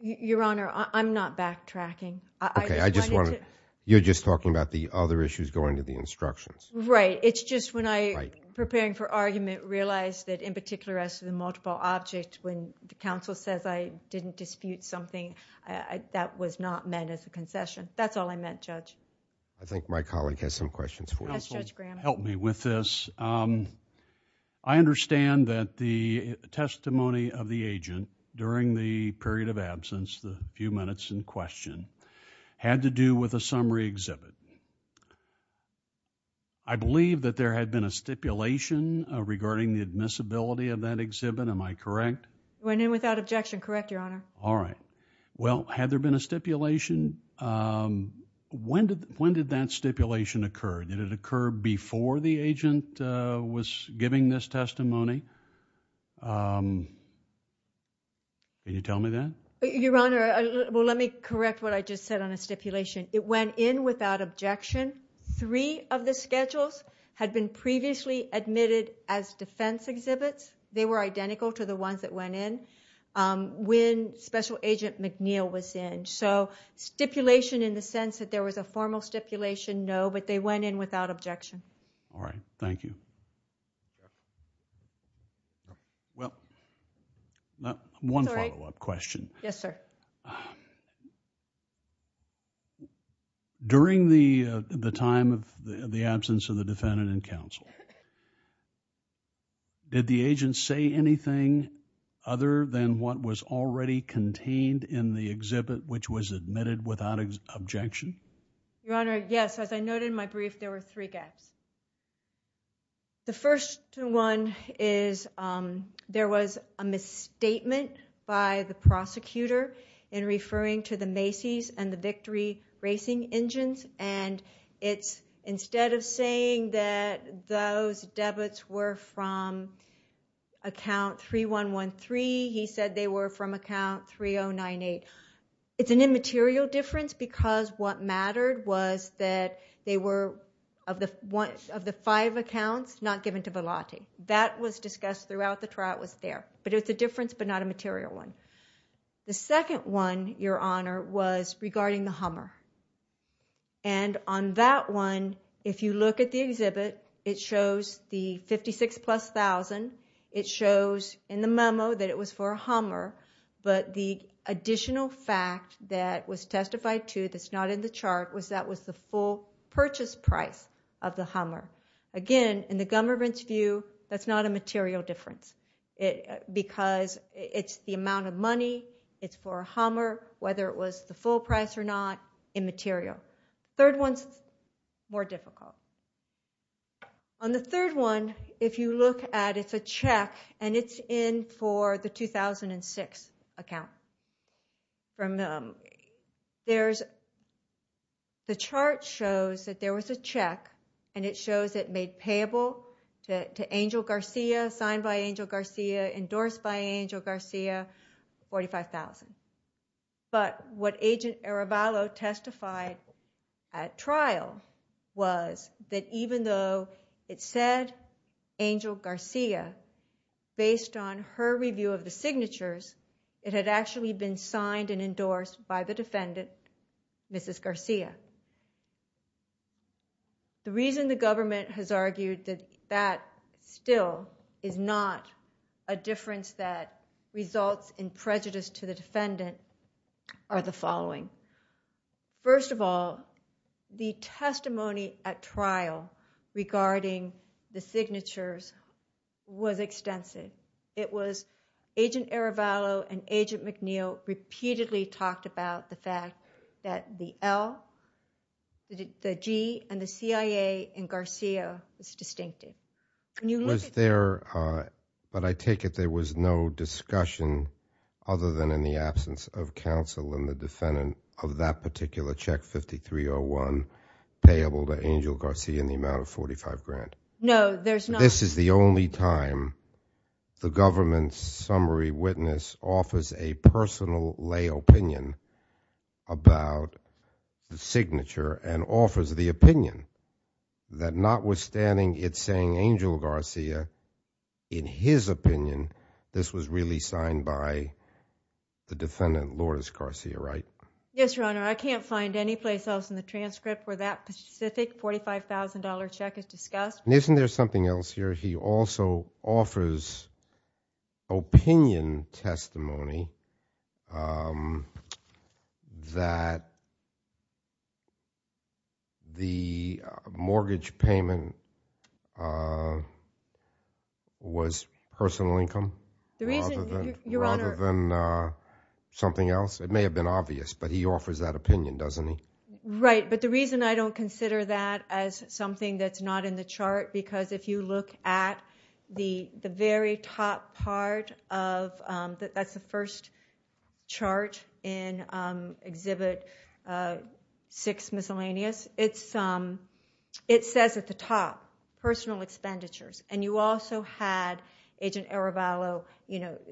Your Honor, I'm not backtracking. Okay, I just want to, you're just talking about the other issues going to the instructions. Right. It's just when I, preparing for argument, realized that in particular as to the multiple objects, when the counsel says I didn't dispute something, that was not meant as a concession. That's all I meant, Judge. I think my colleague has some questions for me. Judge Graham. Help me with this. I understand that the testimony of the agent during the period of absence, the few minutes in question, had to do with a summary exhibit. I believe that there had been a stipulation regarding the admissibility of that exhibit. Am I correct? It went in without objection. Correct, Your Honor. All right. Well, had there been a stipulation? When did that stipulation occur? Did it occur before the agent was giving this testimony? Can you tell me that? Your Honor, well, let me correct what I just said on a stipulation. It went in without objection. Three of the schedules had been previously admitted as defense exhibits. They were identical to the ones that went in when Special Agent McNeil was in. So stipulation in the sense that there was a formal stipulation, no, but they went in without objection. All right. Thank you. Well, one follow-up question. Yes, sir. During the time of the absence of the defendant in counsel, did the agent say anything other than what was already contained in the exhibit, which was admitted without objection? Your Honor, yes. As I noted in my brief, there were three guesses. The first one is there was a misstatement by the prosecutor in referring to the Macy's and the Victory Racing Engines. And it's instead of saying that those debits were from account 3113, he said they were from account 3098. It's an immaterial difference because what mattered was that they were of the five accounts not given to Velati. That was discussed throughout the trial. It was there. But it's a difference but not a material one. The second one, Your Honor, was regarding the Hummer. And on that one, if you look at the exhibit, it shows the 56 plus thousand. It shows in the memo that it was for a Hummer. But the additional fact that was testified to that's not in the chart was that was the full purchase price of the Hummer. Again, in the government's view, that's not a material difference because it's the amount of money, it's for a Hummer, whether it was the full price or not, immaterial. Third one's more difficult. On the third one, if you look at it, it's a check and it's in for the 2006 account. The chart shows that there was a check and it shows it made payable to Angel Garcia, signed by Angel Garcia, endorsed by Angel Garcia, $45,000. But what Agent Arabalo testified at trial was that even though it said Angel Garcia, based on her review of the signatures, it had actually been signed and endorsed by the defendant, Mrs. Garcia. The reason the government has argued that that still is not a difference that results in prejudice to the defendant are the following. First of all, the testimony at trial regarding the signatures was extensive. Agent Arabalo and Agent McNeil repeatedly talked about the fact that the L, the G, and the CIA in Garcia is distinctive. But I take it there was no discussion other than in the absence of counsel and the defendant of that particular check, 5301, payable to Angel Garcia in the amount of $45,000. No, there's not. This is the only time the government's summary witness offers a personal lay opinion about the signature and offers the opinion that notwithstanding it saying Angel Garcia, in his opinion, this was really signed by the defendant, Lourdes Garcia, right? Yes, Your Honor. I can't find any place else in the transcript where that specific $45,000 check is discussed. And isn't there something else here? He also offers opinion testimony that the mortgage payment was personal income rather than something else. It may have been obvious, but he offers that opinion, doesn't he? Right. But the reason I don't consider that as something that's not in the chart, because if you look at the very top part of, that's the first chart in Exhibit 6, Miscellaneous, it says at the top, personal expenditures. And you also had Agent Arabalo.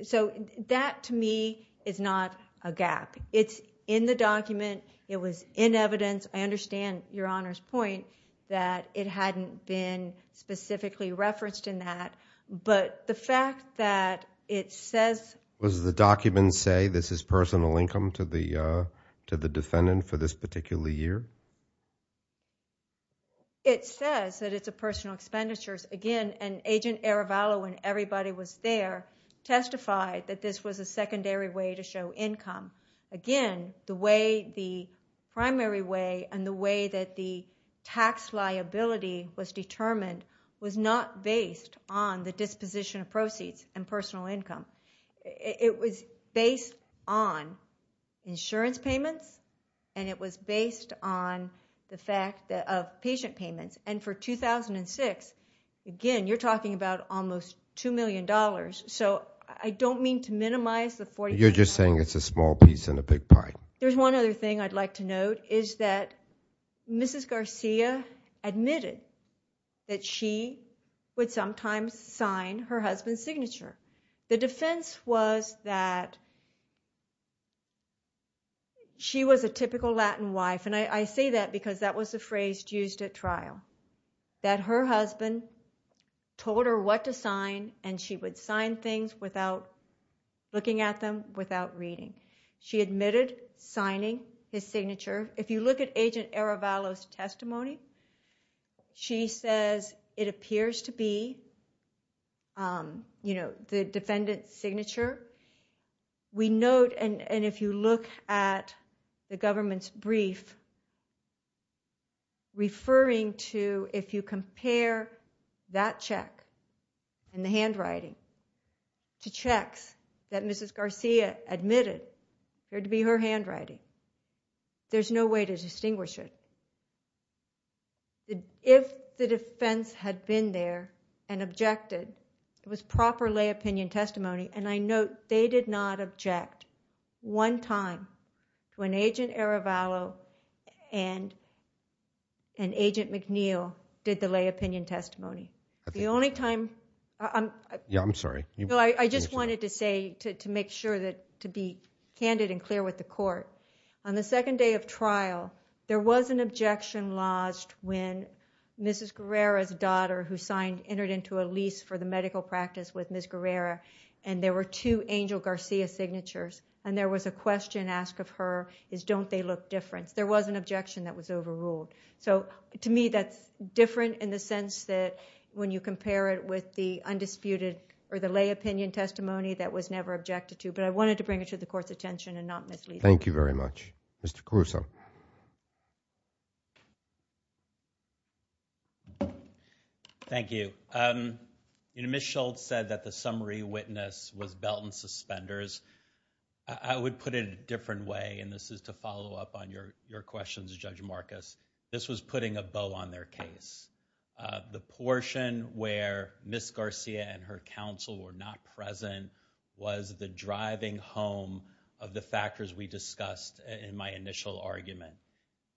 So that, to me, is not a gap. It's in the document. It was in evidence. I understand Your Honor's point that it hadn't been specifically referenced in that. But the fact that it says... Does the document say this is personal income to the defendant for this particular year? It says that it's a personal expenditures. Again, and Agent Arabalo, when everybody was there, testified that this was a secondary way to show income. Again, the way, the primary way and the way that the tax liability was determined was not based on the disposition of proceeds and personal income. It was based on insurance payments, and it was based on the fact of patient payments. And for 2006, again, you're talking about almost $2 million. So I don't mean to minimize the... You're just saying it's a small piece in a big pie. There's one other thing I'd like to note is that Mrs. Garcia admitted that she would sometimes sign her husband's signature. The defense was that she was a typical Latin wife, and I say that because that was the phrase used at trial. That her husband told her what to sign, and she would sign things without looking at them, without reading. She admitted signing his signature. If you look at Agent Arabalo's testimony, she says it appears to be the defendant's signature. We note, and if you look at the government's brief, referring to if you compare that check and the handwriting to checks that Mrs. Garcia admitted, there'd be her handwriting. There's no way to distinguish it. If the defense had been there and objected, it was proper lay opinion testimony, and I note they did not object one time when Agent Arabalo and Agent McNeil did the lay opinion testimony. The only time... Yeah, I'm sorry. I just wanted to say, to make sure, to be candid and clear with the court. On the second day of trial, there was an objection lodged when Mrs. Guerrero's daughter, who Angel Garcia signatures, and there was a question asked of her, is don't they look different? There was an objection that was overruled. To me, that's different in the sense that when you compare it with the undisputed or the lay opinion testimony, that was never objected to, but I wanted to bring it to the court's attention and not mislead it. Thank you very much. Mr. Caruso. Thank you. Ms. Schultz said that the summary witness was belt and suspenders. I would put it a different way, and this is to follow up on your questions, Judge Marcus. This was putting a bow on their case. The portion where Ms. Garcia and her counsel were not present was the driving home of the factors we discussed in my initial argument,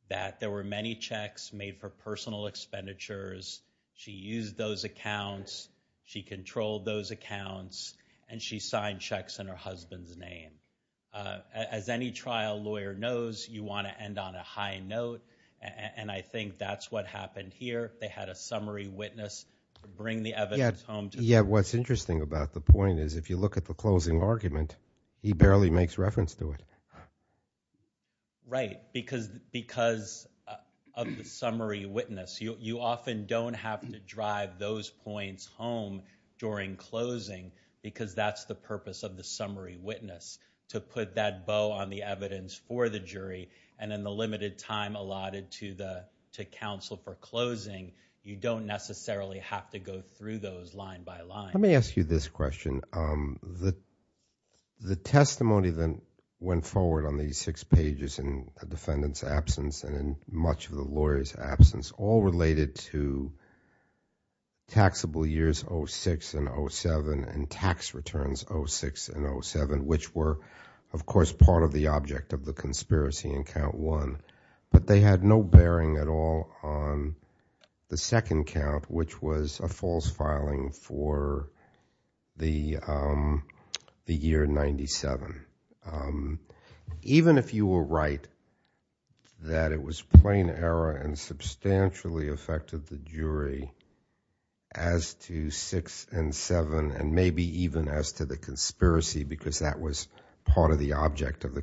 that there were many checks made for personal expenditures. She used those accounts. She controlled those accounts, and she signed checks in her husband's name. As any trial lawyer knows, you want to end on a high note, and I think that's what happened here. They had a summary witness bring the evidence home. Yes. What's interesting about the point is, if you look at the closing argument, he barely makes reference to it. Right. Because of the summary witness, you often don't have to drive those points home during closing, because that's the purpose of the summary witness, to put that bow on the evidence for the jury, and in the limited time allotted to counsel for closing, you don't necessarily have to go through those line by line. Let me ask you this question. The testimony that went forward on these six pages in the defendant's absence, and in much of the lawyer's absence, all related to taxable years 06 and 07, and tax returns 06 and 07, which were, of course, part of the object of the conspiracy in count one, but they had no bearing at all on the second count, which was a false filing for the year 97. Even if you were right that it was plain error and substantially affected the jury as to 06 and 07, and maybe even as to the conspiracy, because that was part of the object of the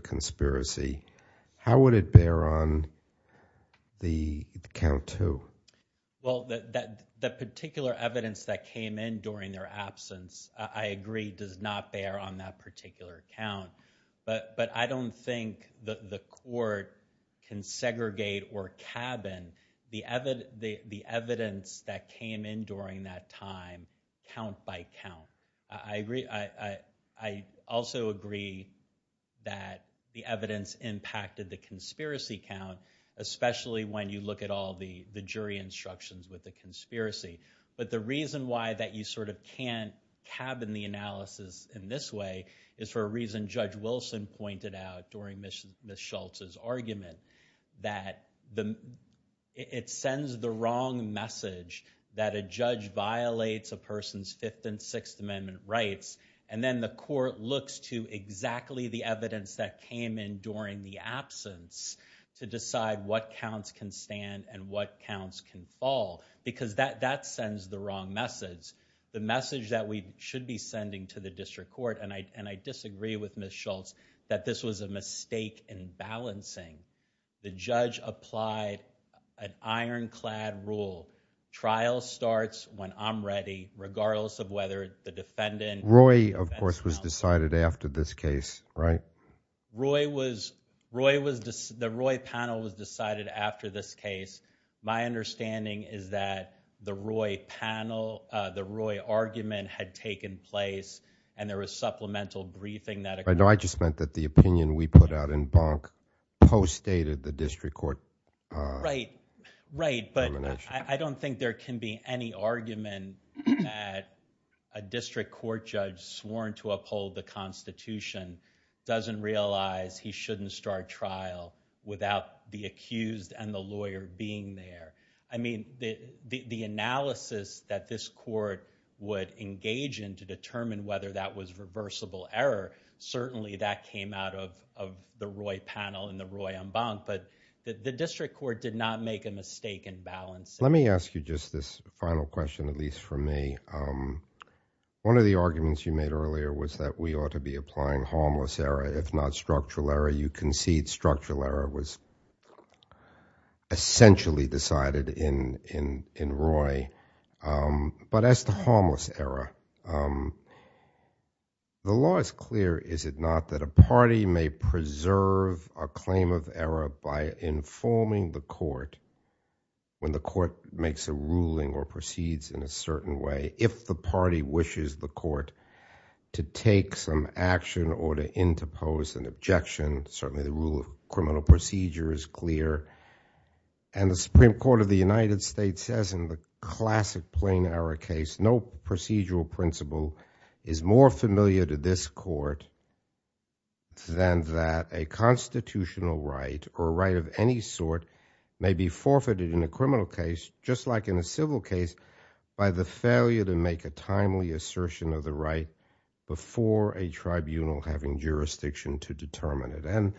count two. Well, the particular evidence that came in during their absence, I agree, does not bear on that particular count. But I don't think the court can segregate or cabin the evidence that came in during that time, count by count. I also agree that the evidence impacted the conspiracy count, especially when you look at all the jury instructions with the conspiracy. But the reason why that you sort of can't cabin the analysis in this way is for a reason Judge Wilson pointed out during Ms. Schultz's argument, that it sends the wrong message that a judge violates a person's Fifth and Sixth Amendment rights. And then the court looks to exactly the evidence that came in during the absence to decide what counts can stand and what counts can fall, because that sends the wrong message. The message that we should be sending to the district court, and I disagree with Ms. Schultz, that this was a mistake in balancing. The judge applied an ironclad rule. Trial starts when I'm ready, regardless of whether the defendant... Roy, of course, was decided after this case, right? Roy was, Roy was, the Roy panel was decided after this case. My understanding is that the Roy panel, the Roy argument had taken place and there was supplemental briefing that... I know I just meant that the opinion we put out in Bonk postdated the district court... Right, right. But I don't think there can be any argument that a district court judge sworn to uphold the Constitution doesn't realize he shouldn't start trial without the accused and the lawyer being there. I mean, the analysis that this court would engage in to determine whether that was reversible error, certainly that came out of the Roy panel and the Roy on Bonk, but the district court did not make a mistake in balance. Let me ask you just this final question, at least for me. One of the arguments you made earlier was that we ought to be applying harmless error, if not structural error. You concede structural error was essentially decided in Roy, but as to harmless error, the law is clear, is it not, that a party may preserve a claim of error by informing the court when the court makes a ruling or proceeds in a certain way, if the party wishes the court to take some action or to interpose an objection, certainly the rule of criminal procedure is clear. And the Supreme Court of the United States says in the classic plain error case, no procedural principle is more familiar to this court than that a constitutional right or right of any sort may be forfeited in a criminal case, just like in a civil case, by the failure to make a timely assertion of the right before a tribunal having jurisdiction to determine it. And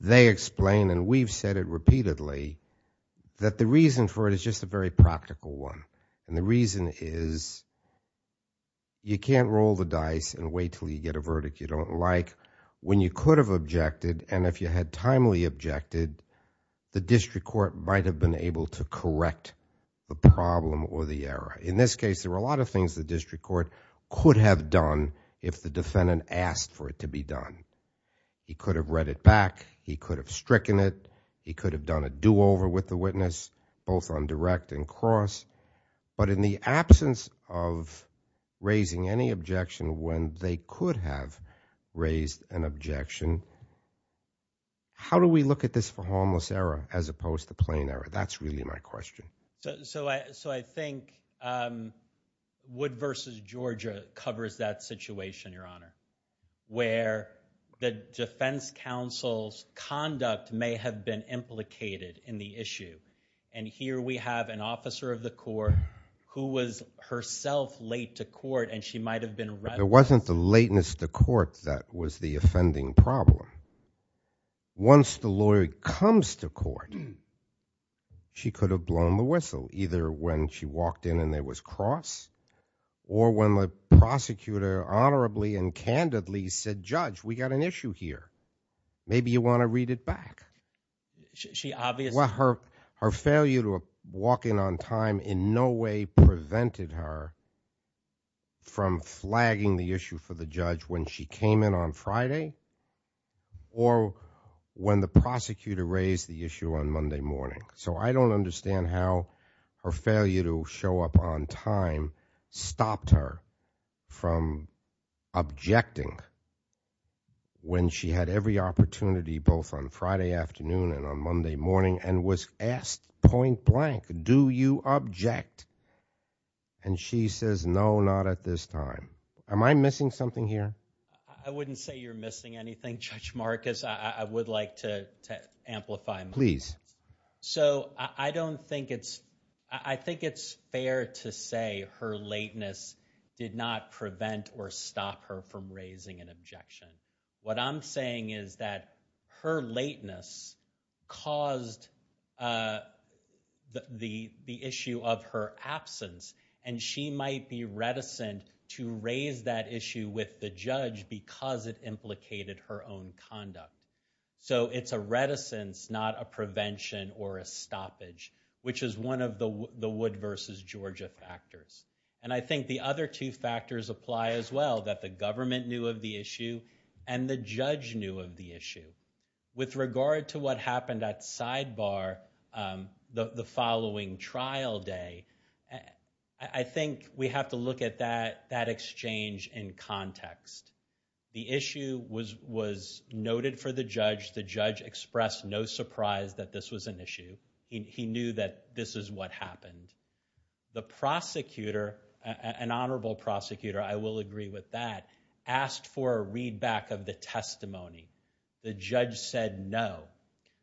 they explain, and we've said it repeatedly, that the reason for it is just a very practical one, and the reason is you can't roll the dice and wait until you get a verdict you don't like. When you could have objected and if you had timely objected, the district court might have been able to correct the problem or the error. In this case, there were a lot of things the district court could have done if the defendant asked for it to be done. He could have read it back, he could have stricken it, he could have done a do-over with the witness, both on direct and cross, but in the absence of raising any objection when they could have raised an objection, how do we look at this for harmless error as opposed to plain error? That's really my question. So I think Wood v. Georgia covers that situation, Your Honor, where the defense counsel's conduct may have been implicated in the issue. And here we have an officer of the court who was herself late to court and she might have been read. It wasn't the lateness to court that was the offending problem. Once the lawyer comes to court, she could have blown the whistle, either when she walked in and there was cross, or when the prosecutor honorably and candidly said, Judge, we got an issue here. Maybe you want to read it back. Her failure to walk in on time in no way prevented her from flagging the issue for the judge when she came in on Friday or when the prosecutor raised the issue on Monday morning. So I don't understand how her failure to show up on time stopped her from objecting when she had every opportunity both on Friday afternoon and on Monday morning and was asked point blank, do you object? And she says, no, not at this time. Am I missing something here? I wouldn't say you're missing anything, Judge Marcus. I would like to amplify. Please. So I don't think it's, I think it's fair to say her lateness did not prevent or stop her from raising an objection. What I'm saying is that her lateness caused the issue of her absence, and she might be reticent to raise that issue with the judge because it implicated her own conduct. So it's a reticence, not a prevention or a stoppage, which is one of the Wood v. Georgia factors. And I think the other two factors apply as well, that the government knew of the issue and the judge knew of the issue. With regard to what happened at Sidebar the following trial day, I think we have to look at that exchange in context. The issue was noted for the judge. The judge expressed no surprise that this was an issue. He knew that this is what happened. The prosecutor, an honorable prosecutor, I will agree with that, asked for a readback of the testimony. The judge said no.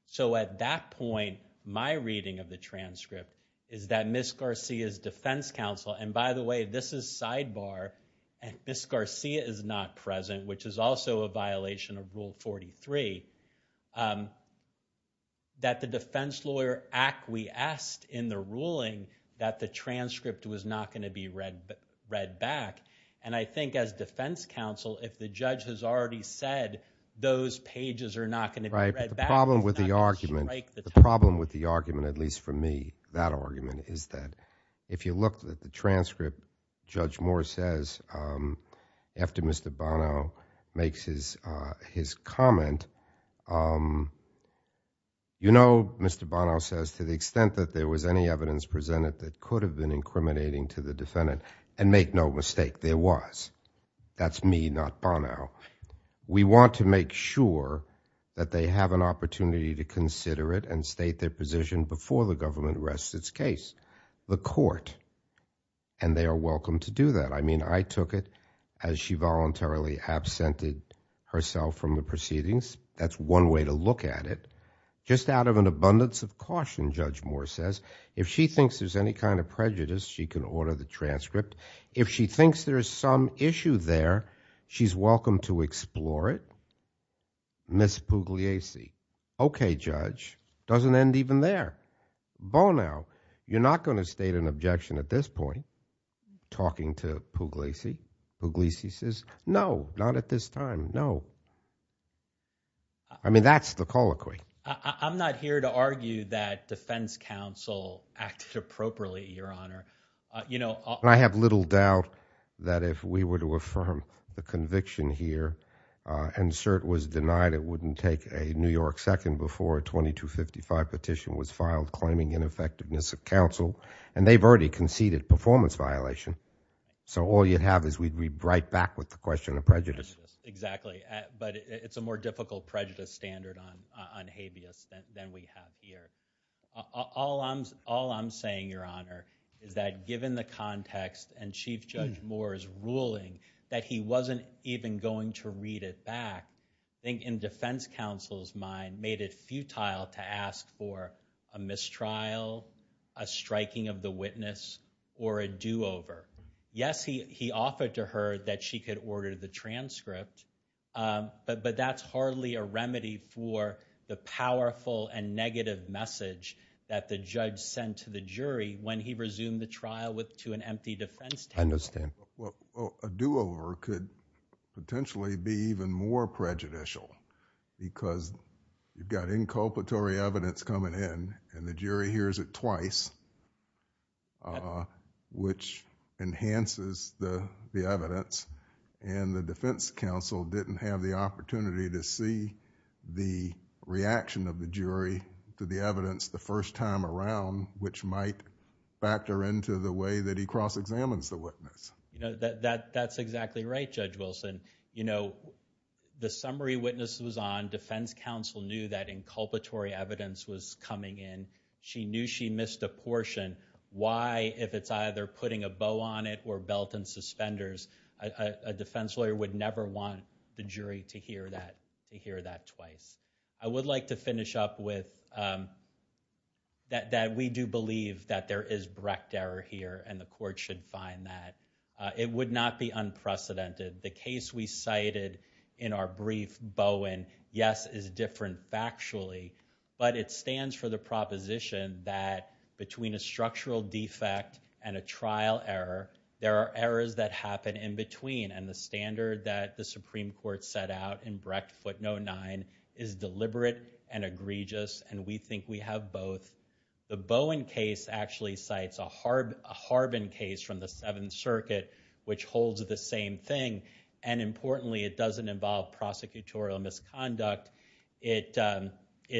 So at that point, my reading of the transcript is that Ms. Garcia's defense counsel, and by the way, this is Sidebar, and Ms. Garcia is not present, which is also a violation of Rule 43, that the Defense Lawyer Act, we asked in the ruling that the transcript was not going to be read back. And I think as defense counsel, if the judge has already said those pages are not going to be read back... Right. The problem with the argument, at least for me, that argument is that if you look at the his comment, you know, Mr. Bonnell says to the extent that there was any evidence presented that could have been incriminating to the defendant, and make no mistake, there was. That's me, not Bonnell. We want to make sure that they have an opportunity to consider it and state their position before the government arrests its case. The court, and they are welcome to do that. I mean, I took it as she voluntarily absented herself from the proceedings. That's one way to look at it. Just out of an abundance of caution, Judge Moore says, if she thinks there's any kind of prejudice, she can order the transcript. If she thinks there's some issue there, she's welcome to explore it. Ms. Pugliese, okay judge, doesn't end even there. Bonnell, you're not going to state an objection at this point, talking to Pugliese. Pugliese says, no, not at this time, no. I mean, that's the colloquy. I'm not here to argue that defense counsel acts appropriately, your honor. I have little doubt that if we were to affirm the conviction here, and cert was denied, it wouldn't take a New York second before a 2255 petition was filed claiming ineffectiveness of counsel, and they've already conceded performance violation. So all you'd have is we'd be right back with the question of prejudice. Exactly, but it's a more difficult prejudice standard on habeas than we have here. All I'm saying, your honor, is that given the context and Chief Judge Moore's ruling that he wasn't even going to read it back, I think in defense counsel's mind, made it futile to ask for a mistrial, a striking of the witness, or a do-over. Yes, he offered to her that she could order the transcript, but that's hardly a remedy for the powerful and negative message that the judge sent to the jury when he resumed the trial to an empty defense testimony. I understand. Well, a do-over could potentially be even more prejudicial, because you've got inculpatory evidence coming in, and the jury hears it twice, which enhances the evidence, and the defense counsel didn't have the opportunity to see the reaction of the jury to the evidence the first time around, which might factor into the way that he cross-examines the witness. That's exactly right, Judge Wilson. The summary witness was on, defense counsel knew that inculpatory evidence was coming in. She knew she missed a portion. Why, if it's either putting a bow on it or belt and suspenders, a defense lawyer would never want the jury to hear that twice. I would like to finish up with that we do believe that there is Brecht error here, and the court should find that. It would not be unprecedented. The case we cited in our brief, Bowen, yes, is different factually, but it stands for the proposition that between a structural defect and a trial error, there are errors that happen in between, and the standard that the Supreme Court set out in Brecht footnote 9 is deliberate and egregious, and we think we have both. The Bowen case actually cites a Harbin case from the Seventh Circuit, which holds the same thing, and importantly, it doesn't involve prosecutorial misconduct. It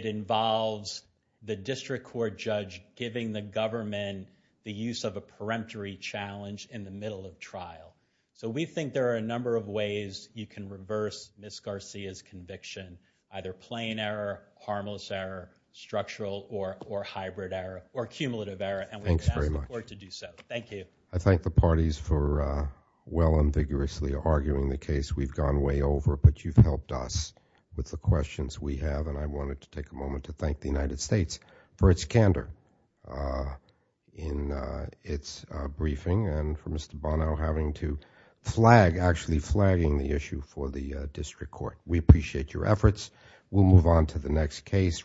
involves the district court judge giving the government the use of a peremptory challenge in the middle of trial. So we think there are a number of ways you can reverse Ms. Garcia's conviction, either plain error, harmless error, structural or hybrid error or cumulative error, and we look forward to do so. Thank you. I thank the parties for well and vigorously arguing the case. We've gone way over, but you've helped us with the questions we have, and I wanted to take a moment to thank the United States for its candor in its briefing and for Mr. Bonow having to flag, actually flagging the issue for the district court. We appreciate your efforts. We'll move on to the next case.